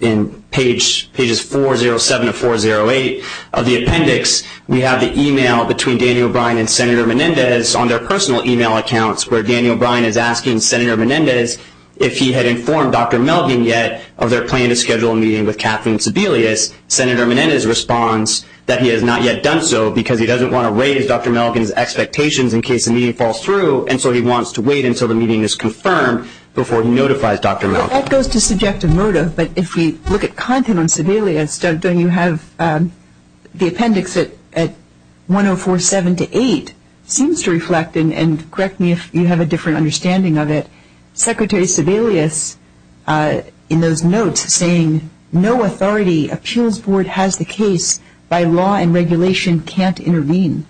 in pages 407 and 408 of the appendix, we have the e-mail between Daniel O'Brien and Senator Menendez on their personal e-mail accounts where Daniel O'Brien is asking Senator Menendez if he had informed Dr. Melvin yet of their plan to schedule a meeting with Kathleen Sebelius. Senator Menendez responds that he has not yet done so because he doesn't want to raise Dr. Melvin's expectations in case the meeting falls through and so he wants to wait until the meeting is confirmed before he notifies Dr. Melvin. That goes to subjective motive, but if we look at content on Sebelius, then you have the appendix at 1047-8 seems to reflect, and correct me if you have a different understanding of it, Secretary Sebelius in those notes saying, no authority appeals board has the case by law and regulation can't intervene.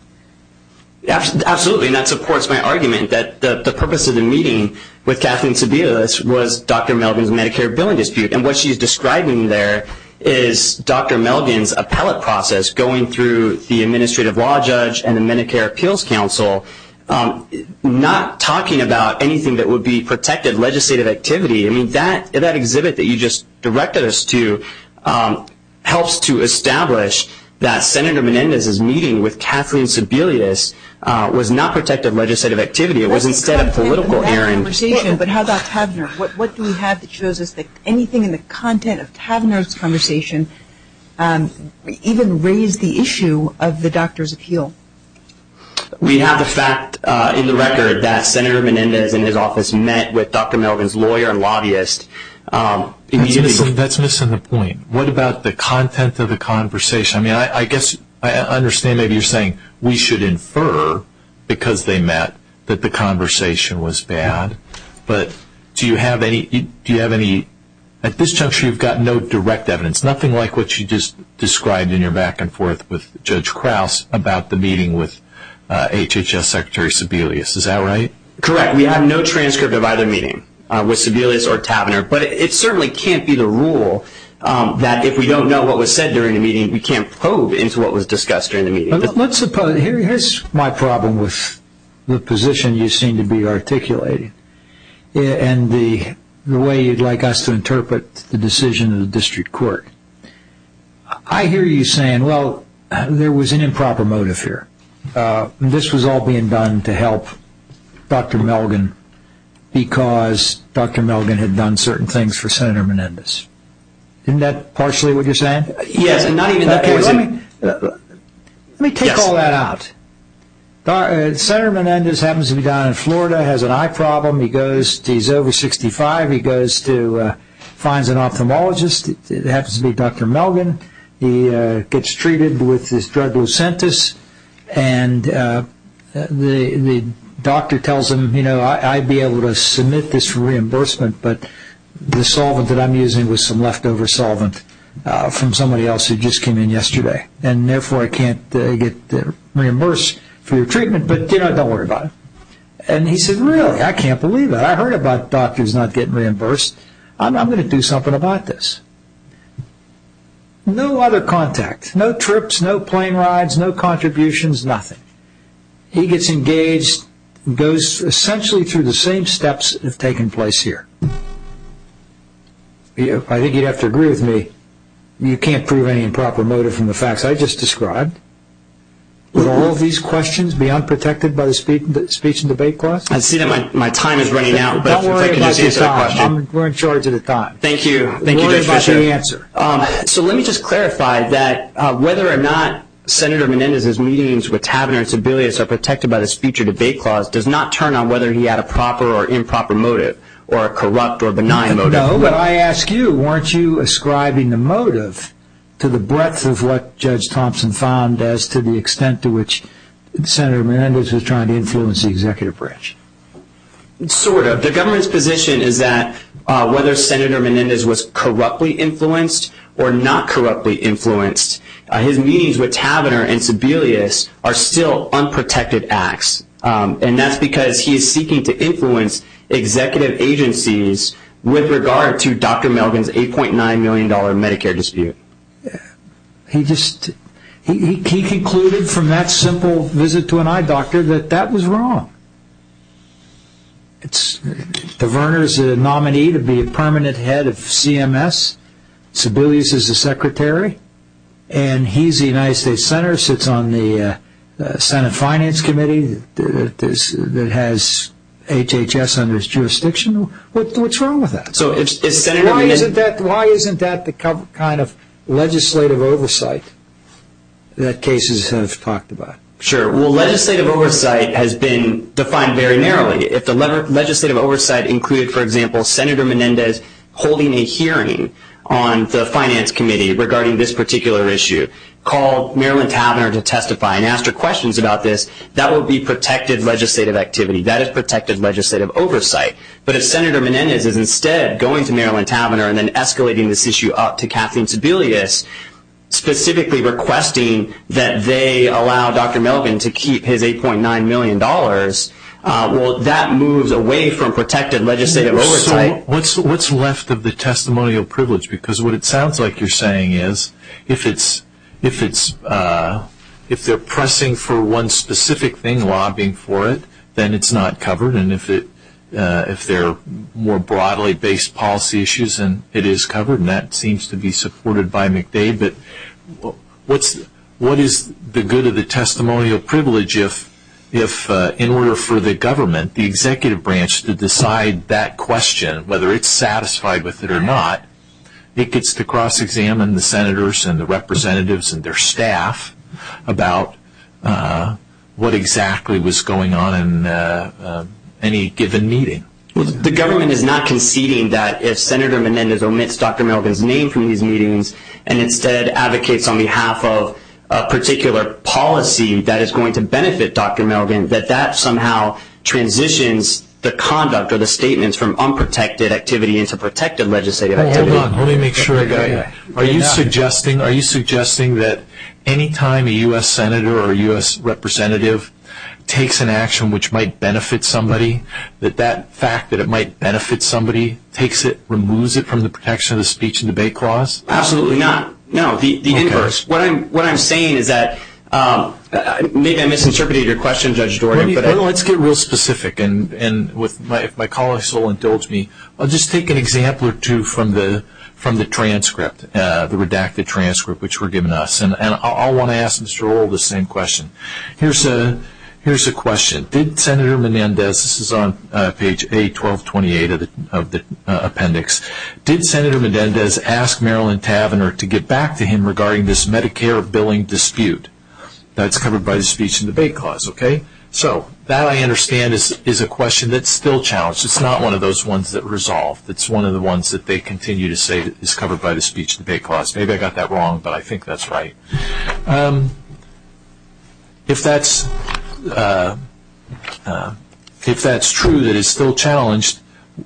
Absolutely, and that supports my argument that the purpose of the meeting with Kathleen Sebelius was Dr. Melvin's Medicare billing dispute, and what she's describing there is Dr. Melvin's appellate process going through the administrative law judge and the Medicare appeals council, not talking about anything that would be protected legislative activity. I mean, that exhibit that you just directed us to helps to establish that Senator Menendez's meeting with Kathleen Sebelius was not protected legislative activity. It was instead a political errand. But how about Kavner? What do we have that shows us that anything in the content of Kavner's conversation even raised the issue of the doctor's appeal? We have the fact in the record that Senator Menendez in his office met with Dr. Melvin's lawyer and lobbyist. That's missing the point. What about the content of the conversation? I mean, I guess I understand maybe you're saying we should infer, because they met, that the conversation was bad. But do you have any at this juncture you've got no direct evidence, nothing like what you just described in your back and forth with Judge Krause about the meeting with HHS Secretary Sebelius. Is that right? Correct. We have no transcript of either meeting with Sebelius or Kavner. But it certainly can't be the rule that if we don't know what was said during the meeting, we can't probe into what was discussed during the meeting. Let's suppose, here's my problem with the position you seem to be articulating and the way you'd like us to interpret the decision of the district court. I hear you saying, well, there was an improper motive here. This was all being done to help Dr. Melvin because Dr. Melvin had done certain things for Senator Menendez. Isn't that partially what you're saying? Let me take all that out. Senator Menendez happens to be down in Florida, has an eye problem. He's over 65. He goes to find an ophthalmologist. It happens to be Dr. Melvin. He gets treated with his drug, Lucentis, and the doctor tells him, you know, I'd be able to submit this for reimbursement, but the solvent that I'm using was some leftover solvent from somebody else who just came in yesterday, and therefore I can't get reimbursed for your treatment, but, you know, don't worry about it. And he said, really? I can't believe it. I heard about doctors not getting reimbursed. I'm going to do something about this. No other contact, no trips, no plane rides, no contributions, nothing. He gets engaged, goes essentially through the same steps that have taken place here. I think you'd have to agree with me. You can't prove any improper motive from the facts I just described. Would all of these questions be unprotected by the speech and debate class? I see that my time is running out. Don't worry about the time. We're in charge of the time. Thank you. Thank you. Good question. So let me just clarify that whether or not Senator Menendez's meetings with Kavanaugh and Sebelius are protected by the speech and debate clause does not turn on whether he had a proper or improper motive or a corrupt or benign motive. No, but I ask you, weren't you ascribing the motive to the breadth of what Judge Thompson found as to the extent to which Senator Menendez was trying to influence the executive branch? Sort of. The government's position is that whether Senator Menendez was corruptly influenced or not corruptly influenced, his meetings with Kavanaugh and Sebelius are still unprotected acts, and that's because he is seeking to influence executive agencies with regard to Dr. Melvin's $8.9 million Medicare dispute. He concluded from that simple visit to an eye doctor that that was wrong. Verner's a nominee to be a permanent head of CMS. Sebelius is the secretary, and he's the United States Senator, sits on the Senate Finance Committee that has HHS under his jurisdiction. What's wrong with that? Why isn't that the kind of legislative oversight that cases have talked about? Sure. Well, legislative oversight has been defined very narrowly. If the legislative oversight included, for example, Senator Menendez holding a hearing on the Finance Committee regarding this particular issue, call Marilyn Tavenner to testify and ask her questions about this, that would be protected legislative activity. That is protected legislative oversight. But if Senator Menendez is instead going to Marilyn Tavenner and then escalating this issue up to Captain Sebelius, specifically requesting that they allow Dr. Melvin to keep his $8.9 million, well, that moves away from protected legislative oversight. What's left of the testimonial privilege? Because what it sounds like you're saying is if they're pressing for one specific thing, lobbying for it, then it's not covered. And if they're more broadly based policy issues, then it is covered, and that seems to be supported by McDade. But what is the good of the testimonial privilege if, in order for the government, the executive branch to decide that question, whether it's satisfied with it or not, it gets to cross-examine the senators and the representatives and their staff about what exactly was going on in any given meeting? The government is not conceding that if Senator Menendez omits Dr. Melvin's name from these meetings and instead advocates on behalf of a particular policy that is going to benefit Dr. Melvin, that that somehow transitions the conduct or the statements from unprotected activity into protected legislative activity. Hold on. Let me make sure I got that. Are you suggesting that any time a U.S. senator or U.S. representative takes an action which might benefit somebody, that that fact that it might benefit somebody takes it, removes it from the protection of the Speech and Debate Clause? Absolutely not. No, the inverse. What I'm saying is that maybe I misinterpreted your question, Judge Dorgan. Let's get real specific, and what my colleagues will indulge me. I'll just take an example or two from the transcript, the redacted transcript, which were given to us. And I'll want to ask Mr. Orr the same question. Here's a question. Did Senator Menendez, this is on page A1228 of the appendix, did Senator Menendez ask Marilyn Tavenner to get back to him regarding this Medicare billing dispute that's covered by the Speech and Debate Clause? Okay, so that I understand is a question that's still challenged. It's not one of those ones that resolve. It's one of the ones that they continue to say is covered by the Speech and Debate Clause. Maybe I got that wrong, but I think that's right. If that's true that it's still challenged,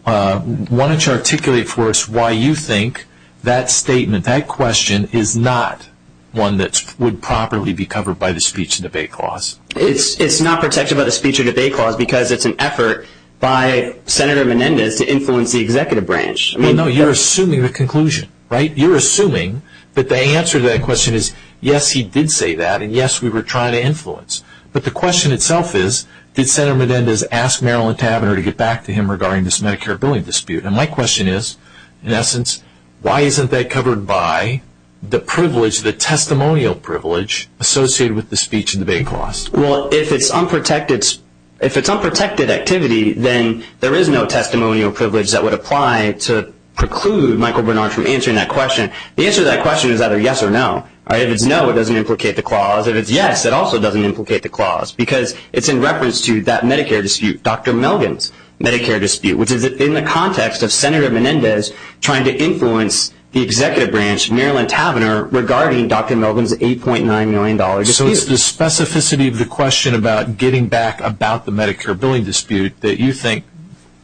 why don't you articulate for us why you think that statement, that question, is not one that would properly be covered by the Speech and Debate Clause? It's not protected by the Speech and Debate Clause because it's an effort by Senator Menendez to influence the executive branch. No, you're assuming the conclusion, right? You're assuming that the answer to that question is, yes, he did say that, and, yes, we were trying to influence. But the question itself is, did Senator Menendez ask Marilyn Tavenner to get back to him regarding this Medicare billing dispute? And my question is, in essence, why isn't that covered by the privilege, the testimonial privilege associated with the Speech and Debate Clause? Well, if it's unprotected activity, then there is no testimonial privilege that would apply to preclude Michael Bernard from answering that question. The answer to that question is either yes or no. If it's no, it doesn't implicate the clause. If it's yes, it also doesn't implicate the clause because it's in reference to that Medicare dispute, Dr. Melvin's Medicare dispute, which is in the context of Senator Menendez trying to influence the executive branch, Marilyn Tavenner, regarding Dr. Melvin's $8.9 million dispute. So it's the specificity of the question about getting back about the Medicare billing dispute that you think,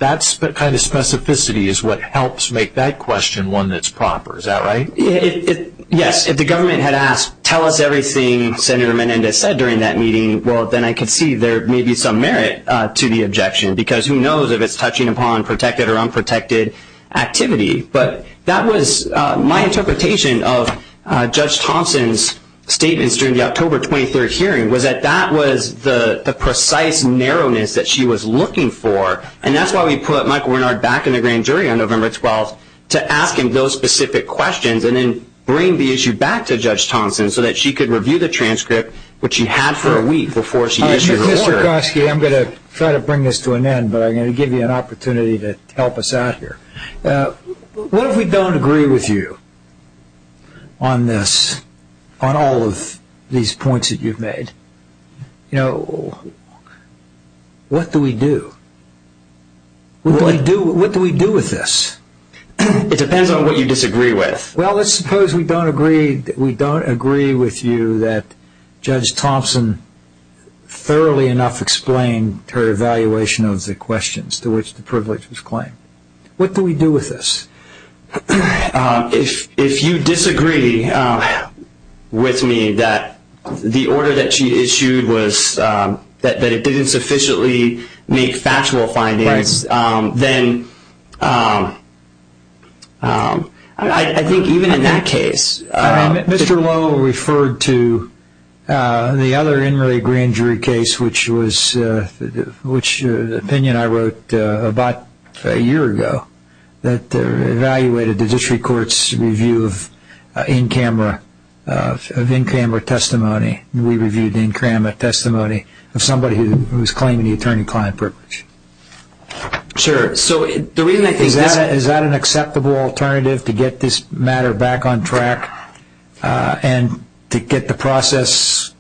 that kind of specificity is what helps make that question one that's proper. Is that right? Yes. If the government had asked, tell us everything Senator Menendez said during that meeting, well, then I could see there may be some merit to the objection, because who knows if it's touching upon protected or unprotected activity. But that was my interpretation of Judge Thompson's statements during the October 23rd hearing, was that that was the precise narrowness that she was looking for, and that's why we put Michael Bernard back in the grand jury on November 12th to ask him those specific questions and then bring the issue back to Judge Thompson so that she could review the transcript, which she had for a week before she issued her warrant. I'm going to try to bring this to an end, but I'm going to give you an opportunity to help us out here. What if we don't agree with you on this, on all of these points that you've made? You know, what do we do? What do we do with this? It depends on what you disagree with. Well, let's suppose we don't agree with you that Judge Thompson thoroughly enough explained her evaluation of the questions to which the privilege was claimed. What do we do with this? If you disagree with me that the order that she issued was that it didn't sufficiently make factual findings, then I think even in that case. Mr. Lowe referred to the other in-ring grand jury case, which was an opinion I wrote about a year ago, that evaluated the district court's review of in-camera testimony. We reviewed the in-camera testimony of somebody who was claiming the attorney-client privilege. Sure. Is that an acceptable alternative to get this matter back on track and to get the process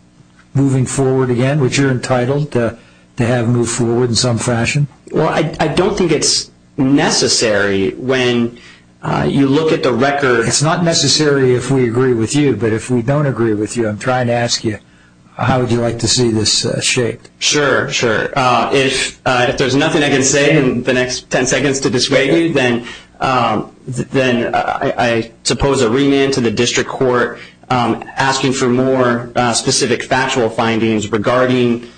moving forward again, which you're entitled to have move forward in some fashion? Well, I don't think it's necessary when you look at the record. It's not necessary if we agree with you, but if we don't agree with you, I'm trying to ask you, how would you like to see this shaped? Sure, sure. If there's nothing I can say in the next ten seconds to dissuade you, then I suppose a remand to the district court asking for more specific factual findings regarding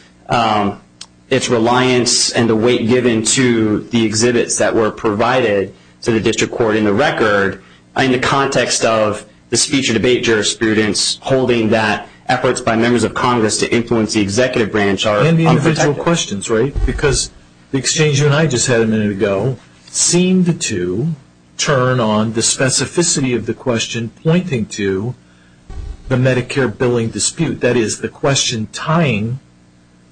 its reliance and the weight given to the exhibits that were provided to the district court in the record in the context of the speech and debate jurisprudence holding that efforts by members of Congress to influence the executive branch are unpredictable. And the original questions, right? Because the exchange you and I just had a minute ago seemed to turn on the specificity of the question pointing to the Medicare billing dispute. That is, the question tying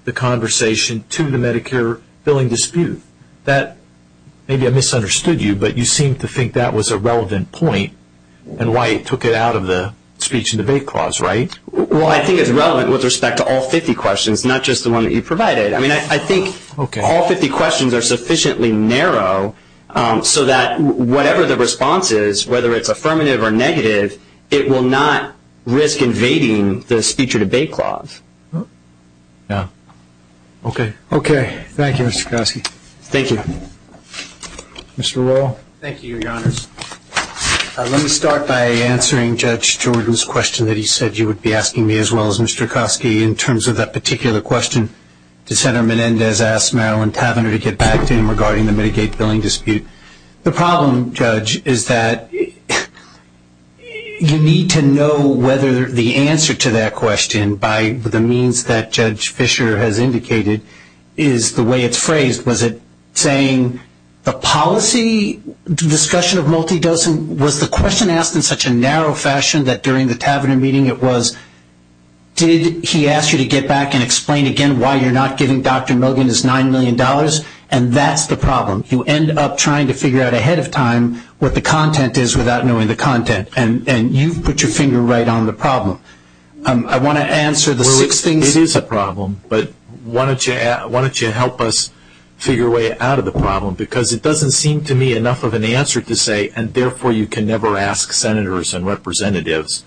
the conversation to the Medicare billing dispute. Maybe I misunderstood you, but you seemed to think that was a relevant point and why it took it out of the speech and debate clause, right? Well, I think it's relevant with respect to all 50 questions, not just the one that you provided. I mean, I think all 50 questions are sufficiently narrow so that whatever the response is, whether it's affirmative or negative, it will not risk invading the speech and debate clause. Okay. Okay. Thank you, Mr. Koski. Thank you. Mr. Roll. Thank you, Your Honors. Let me start by answering Judge Jordan's question that he said you would be asking me, as well as Mr. Koski, in terms of that particular question. Senator Menendez asked Marilyn Tavenner to get back to him regarding the Medicaid billing dispute. The problem, Judge, is that you need to know whether the answer to that question, by the means that Judge Fischer has indicated, is the way it's phrased. Was it saying a policy discussion of multidosing? Was the question asked in such a narrow fashion that during the Tavenner meeting it was, did he ask you to get back and explain again why you're not giving Dr. Milgren his $9 million? And that's the problem. You end up trying to figure out ahead of time what the content is without knowing the content, and you put your finger right on the problem. I want to answer the lit thing. It is a problem. But why don't you help us figure a way out of the problem, because it doesn't seem to me enough of an answer to say, and therefore you can never ask senators and representatives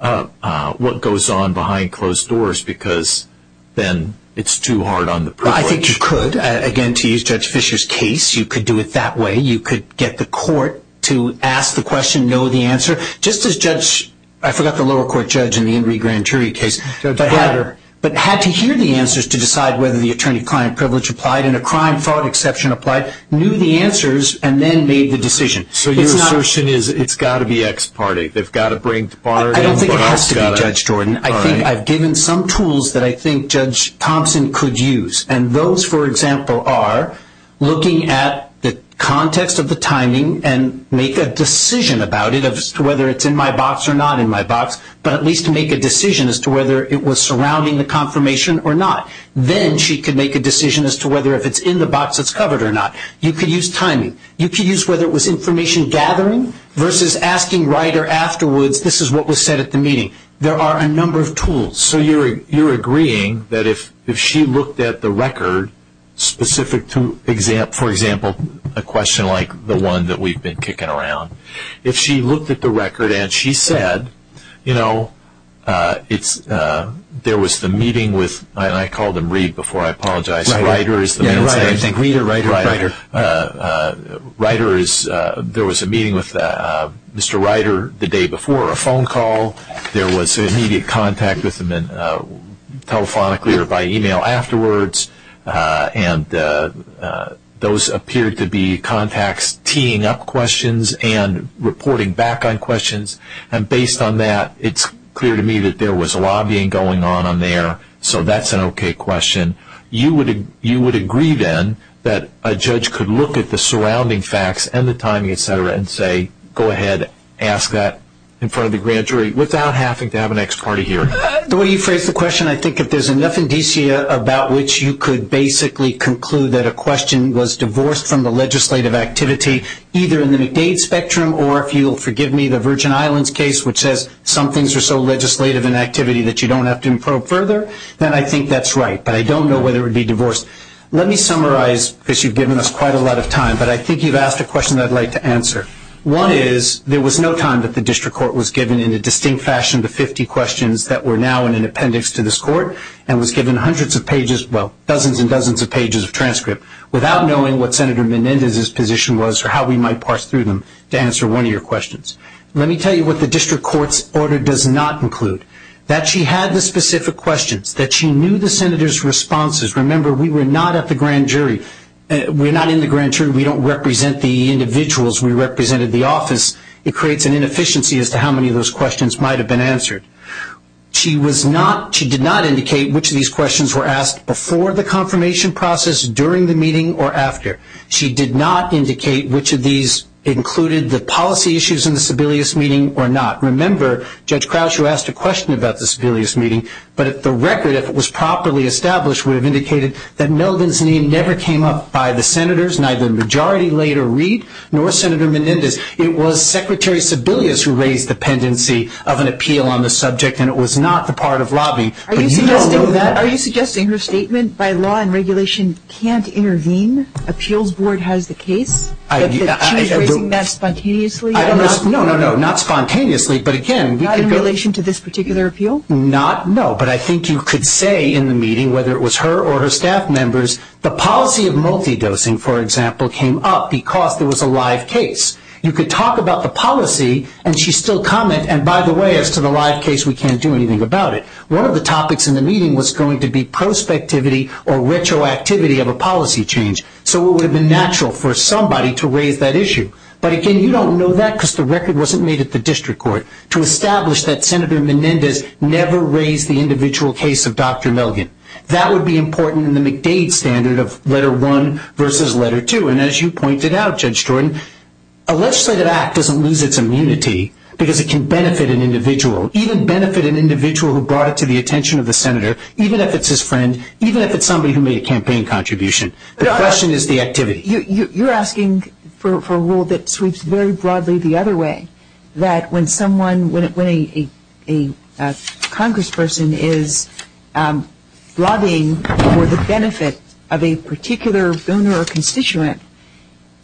what goes on behind closed doors, because then it's too hard on the privilege. I think you could. Again, to use Judge Fischer's case, you could do it that way. You could get the court to ask the question, know the answer. Just as Judge – I forgot the lower court judge in the Enrique Grand Jury case, but had to hear the answers to decide whether the attorney-client privilege applied and a crime-fraud exception applied, knew the answers, and then made the decision. So your assertion is it's got to be ex parte. They've got to bring – I don't think it has to be, Judge Jordan. I think I've given some tools that I think Judge Thompson could use, and those, for example, are looking at the context of the timing and make a decision about it as to whether it's in my box or not in my box, but at least to make a decision as to whether it was surrounding the confirmation or not. Then she could make a decision as to whether if it's in the box it's covered or not. You could use timing. You could use whether it was information gathering versus asking right or afterwards, this is what was said at the meeting. There are a number of tools. So you're agreeing that if she looked at the record specific to, for example, a question like the one that we've been kicking around, if she looked at the record and she said, you know, there was the meeting with – and I called him Reid before. I apologize. Reiter. Yeah, Reiter. Reiter. Reiter. Reiter is – there was a meeting with Mr. Reiter the day before, a phone call. There was immediate contact with him telephonically or by email afterwards, and those appeared to be contacts teeing up questions and reporting back on questions, and based on that, it's clear to me that there was lobbying going on on there, so that's an okay question. You would agree then that a judge could look at the surrounding facts and the timing, et cetera, and say, go ahead, ask that in front of the grand jury, without having to have an ex parte here. The way you phrased the question, I think if there's enough indicia about which you could basically conclude that a question was divorced from the legislative activity, either in the McDade spectrum or, if you'll forgive me, the Virgin Islands case, which says some things are so legislative in activity that you don't have to improve further, then I think that's right, but I don't know whether it would be divorced. Let me summarize, because you've given us quite a lot of time, but I think you've asked a question that I'd like to answer. One is there was no time that the district court was given in a distinct fashion the 50 questions that were now in an appendix to this court and was given hundreds of pages, well, dozens and dozens of pages of transcript, without knowing what Senator Menendez's position was or how we might parse through them to answer one of your questions. Let me tell you what the district court's order does not include, that she had the specific questions, that she knew the senator's responses. Remember, we were not at the grand jury. We're not in the grand jury. We don't represent the individuals. We represented the office. It creates an inefficiency as to how many of those questions might have been answered. She did not indicate which of these questions were asked before the confirmation process, during the meeting, or after. She did not indicate which of these included the policy issues in the Sebelius meeting or not. Remember, Judge Crouch, you asked a question about the Sebelius meeting, but the record, if it was properly established, would have indicated that Melvin's name never came up by the senators, neither Majority Leader Reid nor Senator Menendez. It was Secretary Sebelius who raised the pendency of an appeal on the subject, and it was not the part of lobby. But you don't know that. Are you suggesting her statement by law and regulation can't intervene? Appeals Board has the case? That she's raising that spontaneously? No, no, no, not spontaneously. But, again, we could go. Not in relation to this particular appeal? Not, no. But I think you could say in the meeting, whether it was her or her staff members, the policy of multidosing, for example, came up because there was a live case. You could talk about the policy, and she still commented, and by the way, as to the live case, we can't do anything about it. One of the topics in the meeting was going to be prospectivity or retroactivity of a policy change. So it would have been natural for somebody to raise that issue. But, again, you don't know that because the record wasn't made at the district court to establish that Senator Menendez never raised the individual case of Dr. Melvin. That would be important in the McDade standard of letter one versus letter two. And as you pointed out, Judge Jordan, a legislative act doesn't lose its immunity because it can benefit an individual, even benefit an individual who brought it to the attention of the Senator, even if it's his friend, even if it's somebody who made a campaign contribution. The question is the activity. You're asking for a rule that sweeps very broadly the other way, that when someone, when a congressperson is lobbying for the benefit of a particular donor or constituent,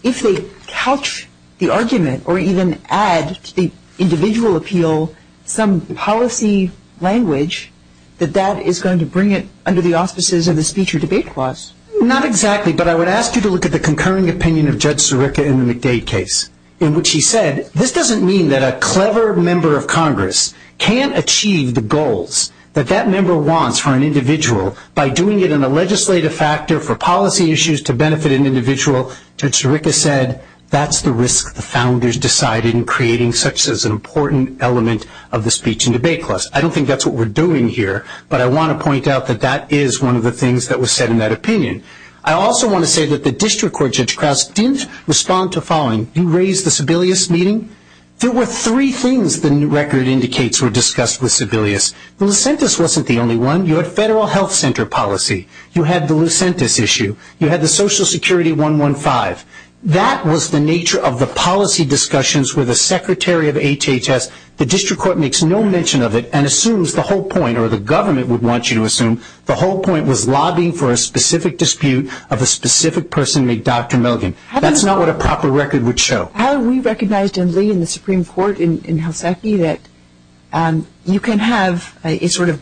if they couch the argument or even add to the individual appeal some policy language, that that is going to bring it under the offices of the speech or debate clause. Not exactly, but I would ask you to look at the concurring opinion of Judge Sirica in the McDade case, in which he said this doesn't mean that a clever member of Congress can't achieve the goals that that member wants for an individual. By doing it in a legislative factor for policy issues to benefit an individual, Judge Sirica said that's the risk the founders decided in creating such as an important element of the speech and debate clause. I don't think that's what we're doing here, but I want to point out that that is one of the things that was said in that opinion. I also want to say that the district court, Judge Krause, didn't respond to the following. You raised the Sebelius meeting. There were three things the record indicates were discussed with Sebelius. The Lucentis wasn't the only one. You had federal health center policy. You had the Lucentis issue. You had the Social Security 115. That was the nature of the policy discussions with the secretary of HHS. The district court makes no mention of it and assumes the whole point, or the government would want you to assume, the whole point was lobbying for a specific dispute of a specific person named Dr. Milgan. That's not what a proper record would show. How we recognized in Lee and the Supreme Court in Haseki that you can have a sort of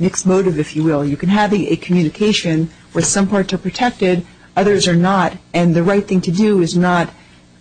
mixed motive, if you will. You can have a communication where some parts are protected, others are not, and the right thing to do is not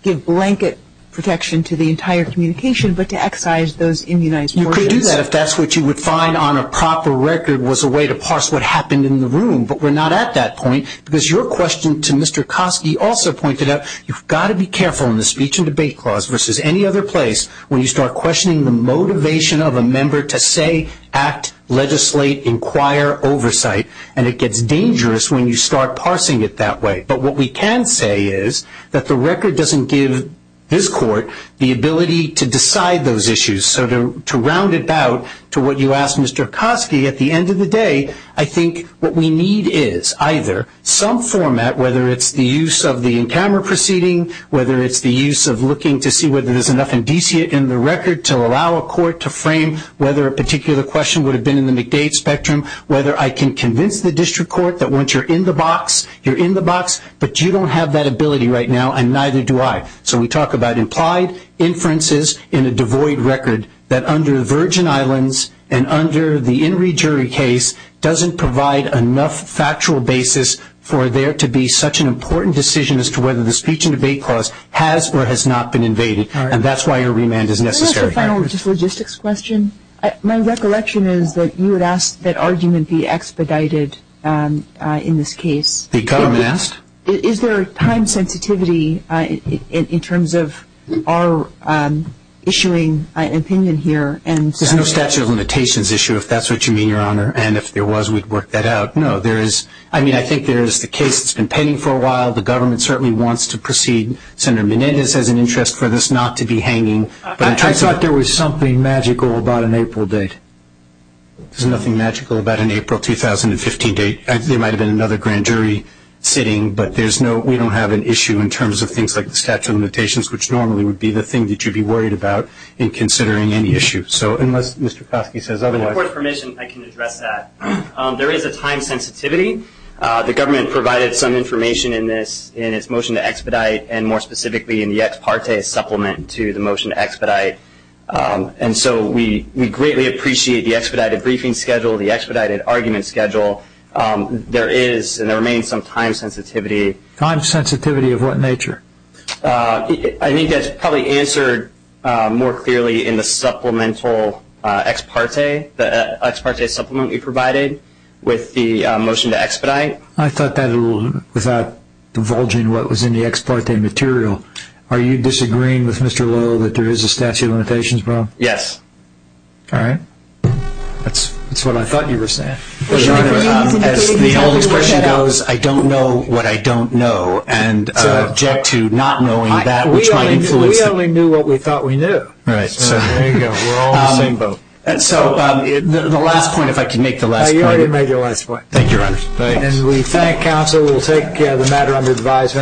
give blanket protection to the entire communication but to excise those in the United States. You could do that if that's what you would find on a proper record was a way to parse what happened in the room, but we're not at that point because your question to Mr. Koski also pointed out you've got to be careful in the speech and debate clause versus any other place when you start questioning the motivation of a member to say, act, legislate, inquire, oversight, and it gets dangerous when you start parsing it that way. But what we can say is that the record doesn't give this court the ability to decide those issues so to round it out to what you asked Mr. Koski at the end of the day, I think what we need is either some format, whether it's the use of the in-camera proceeding, whether it's the use of looking to see whether there's enough indicia in the record to allow a court to frame whether a particular question would have been in the McDade spectrum, whether I can convince the district court that once you're in the box, you're in the box, but you don't have that ability right now and neither do I. So we talk about implied inferences in a devoid record that under the Virgin Islands and under the in rejury case doesn't provide enough factual basis for there to be such an important decision as to whether the speech and debate clause has or has not been invaded, and that's why a remand is necessary. Can I ask a final logistics question? My recollection is that you had asked that argument be expedited in this case. The government asked? Is there time sensitivity in terms of our issuing opinion here? There's no statute of limitations issue, if that's what you mean, Your Honor, and if there was, we'd work that out. No, there is. I mean, I think there is a case that's been pending for a while. The government certainly wants to proceed. Senator Menendez has an interest for this not to be hanging. I thought there was something magical about an April date. There's nothing magical about an April 2015 date. There might have been another grand jury sitting, but we don't have an issue in terms of things like the statute of limitations, which normally would be the thing that you'd be worried about in considering any issue. So unless Mr. Plotkin says otherwise. With your permission, I can address that. There is a time sensitivity. The government provided some information in this, in its motion to expedite, and more specifically in the ex parte supplement to the motion to expedite, and so we greatly appreciate the expedited briefing schedule, the expedited argument schedule. There is and there remains some time sensitivity. Time sensitivity of what nature? I think that's probably answered more clearly in the supplemental ex parte, the ex parte supplement we provided with the motion to expedite. I thought that, without divulging what was in the ex parte material, are you disagreeing with Mr. Lowe that there is a statute of limitations, bro? Yes. All right. That's what I thought you were saying. As the old expression goes, I don't know what I don't know, and I object to not knowing that which might be true. We only knew what we thought we knew. Right. So there you go. We're all in limbo. So the last point, if I can make the last point. You already made your last point. Thank you, Ryan. And we thank counsel. We'll take the matter under advisement.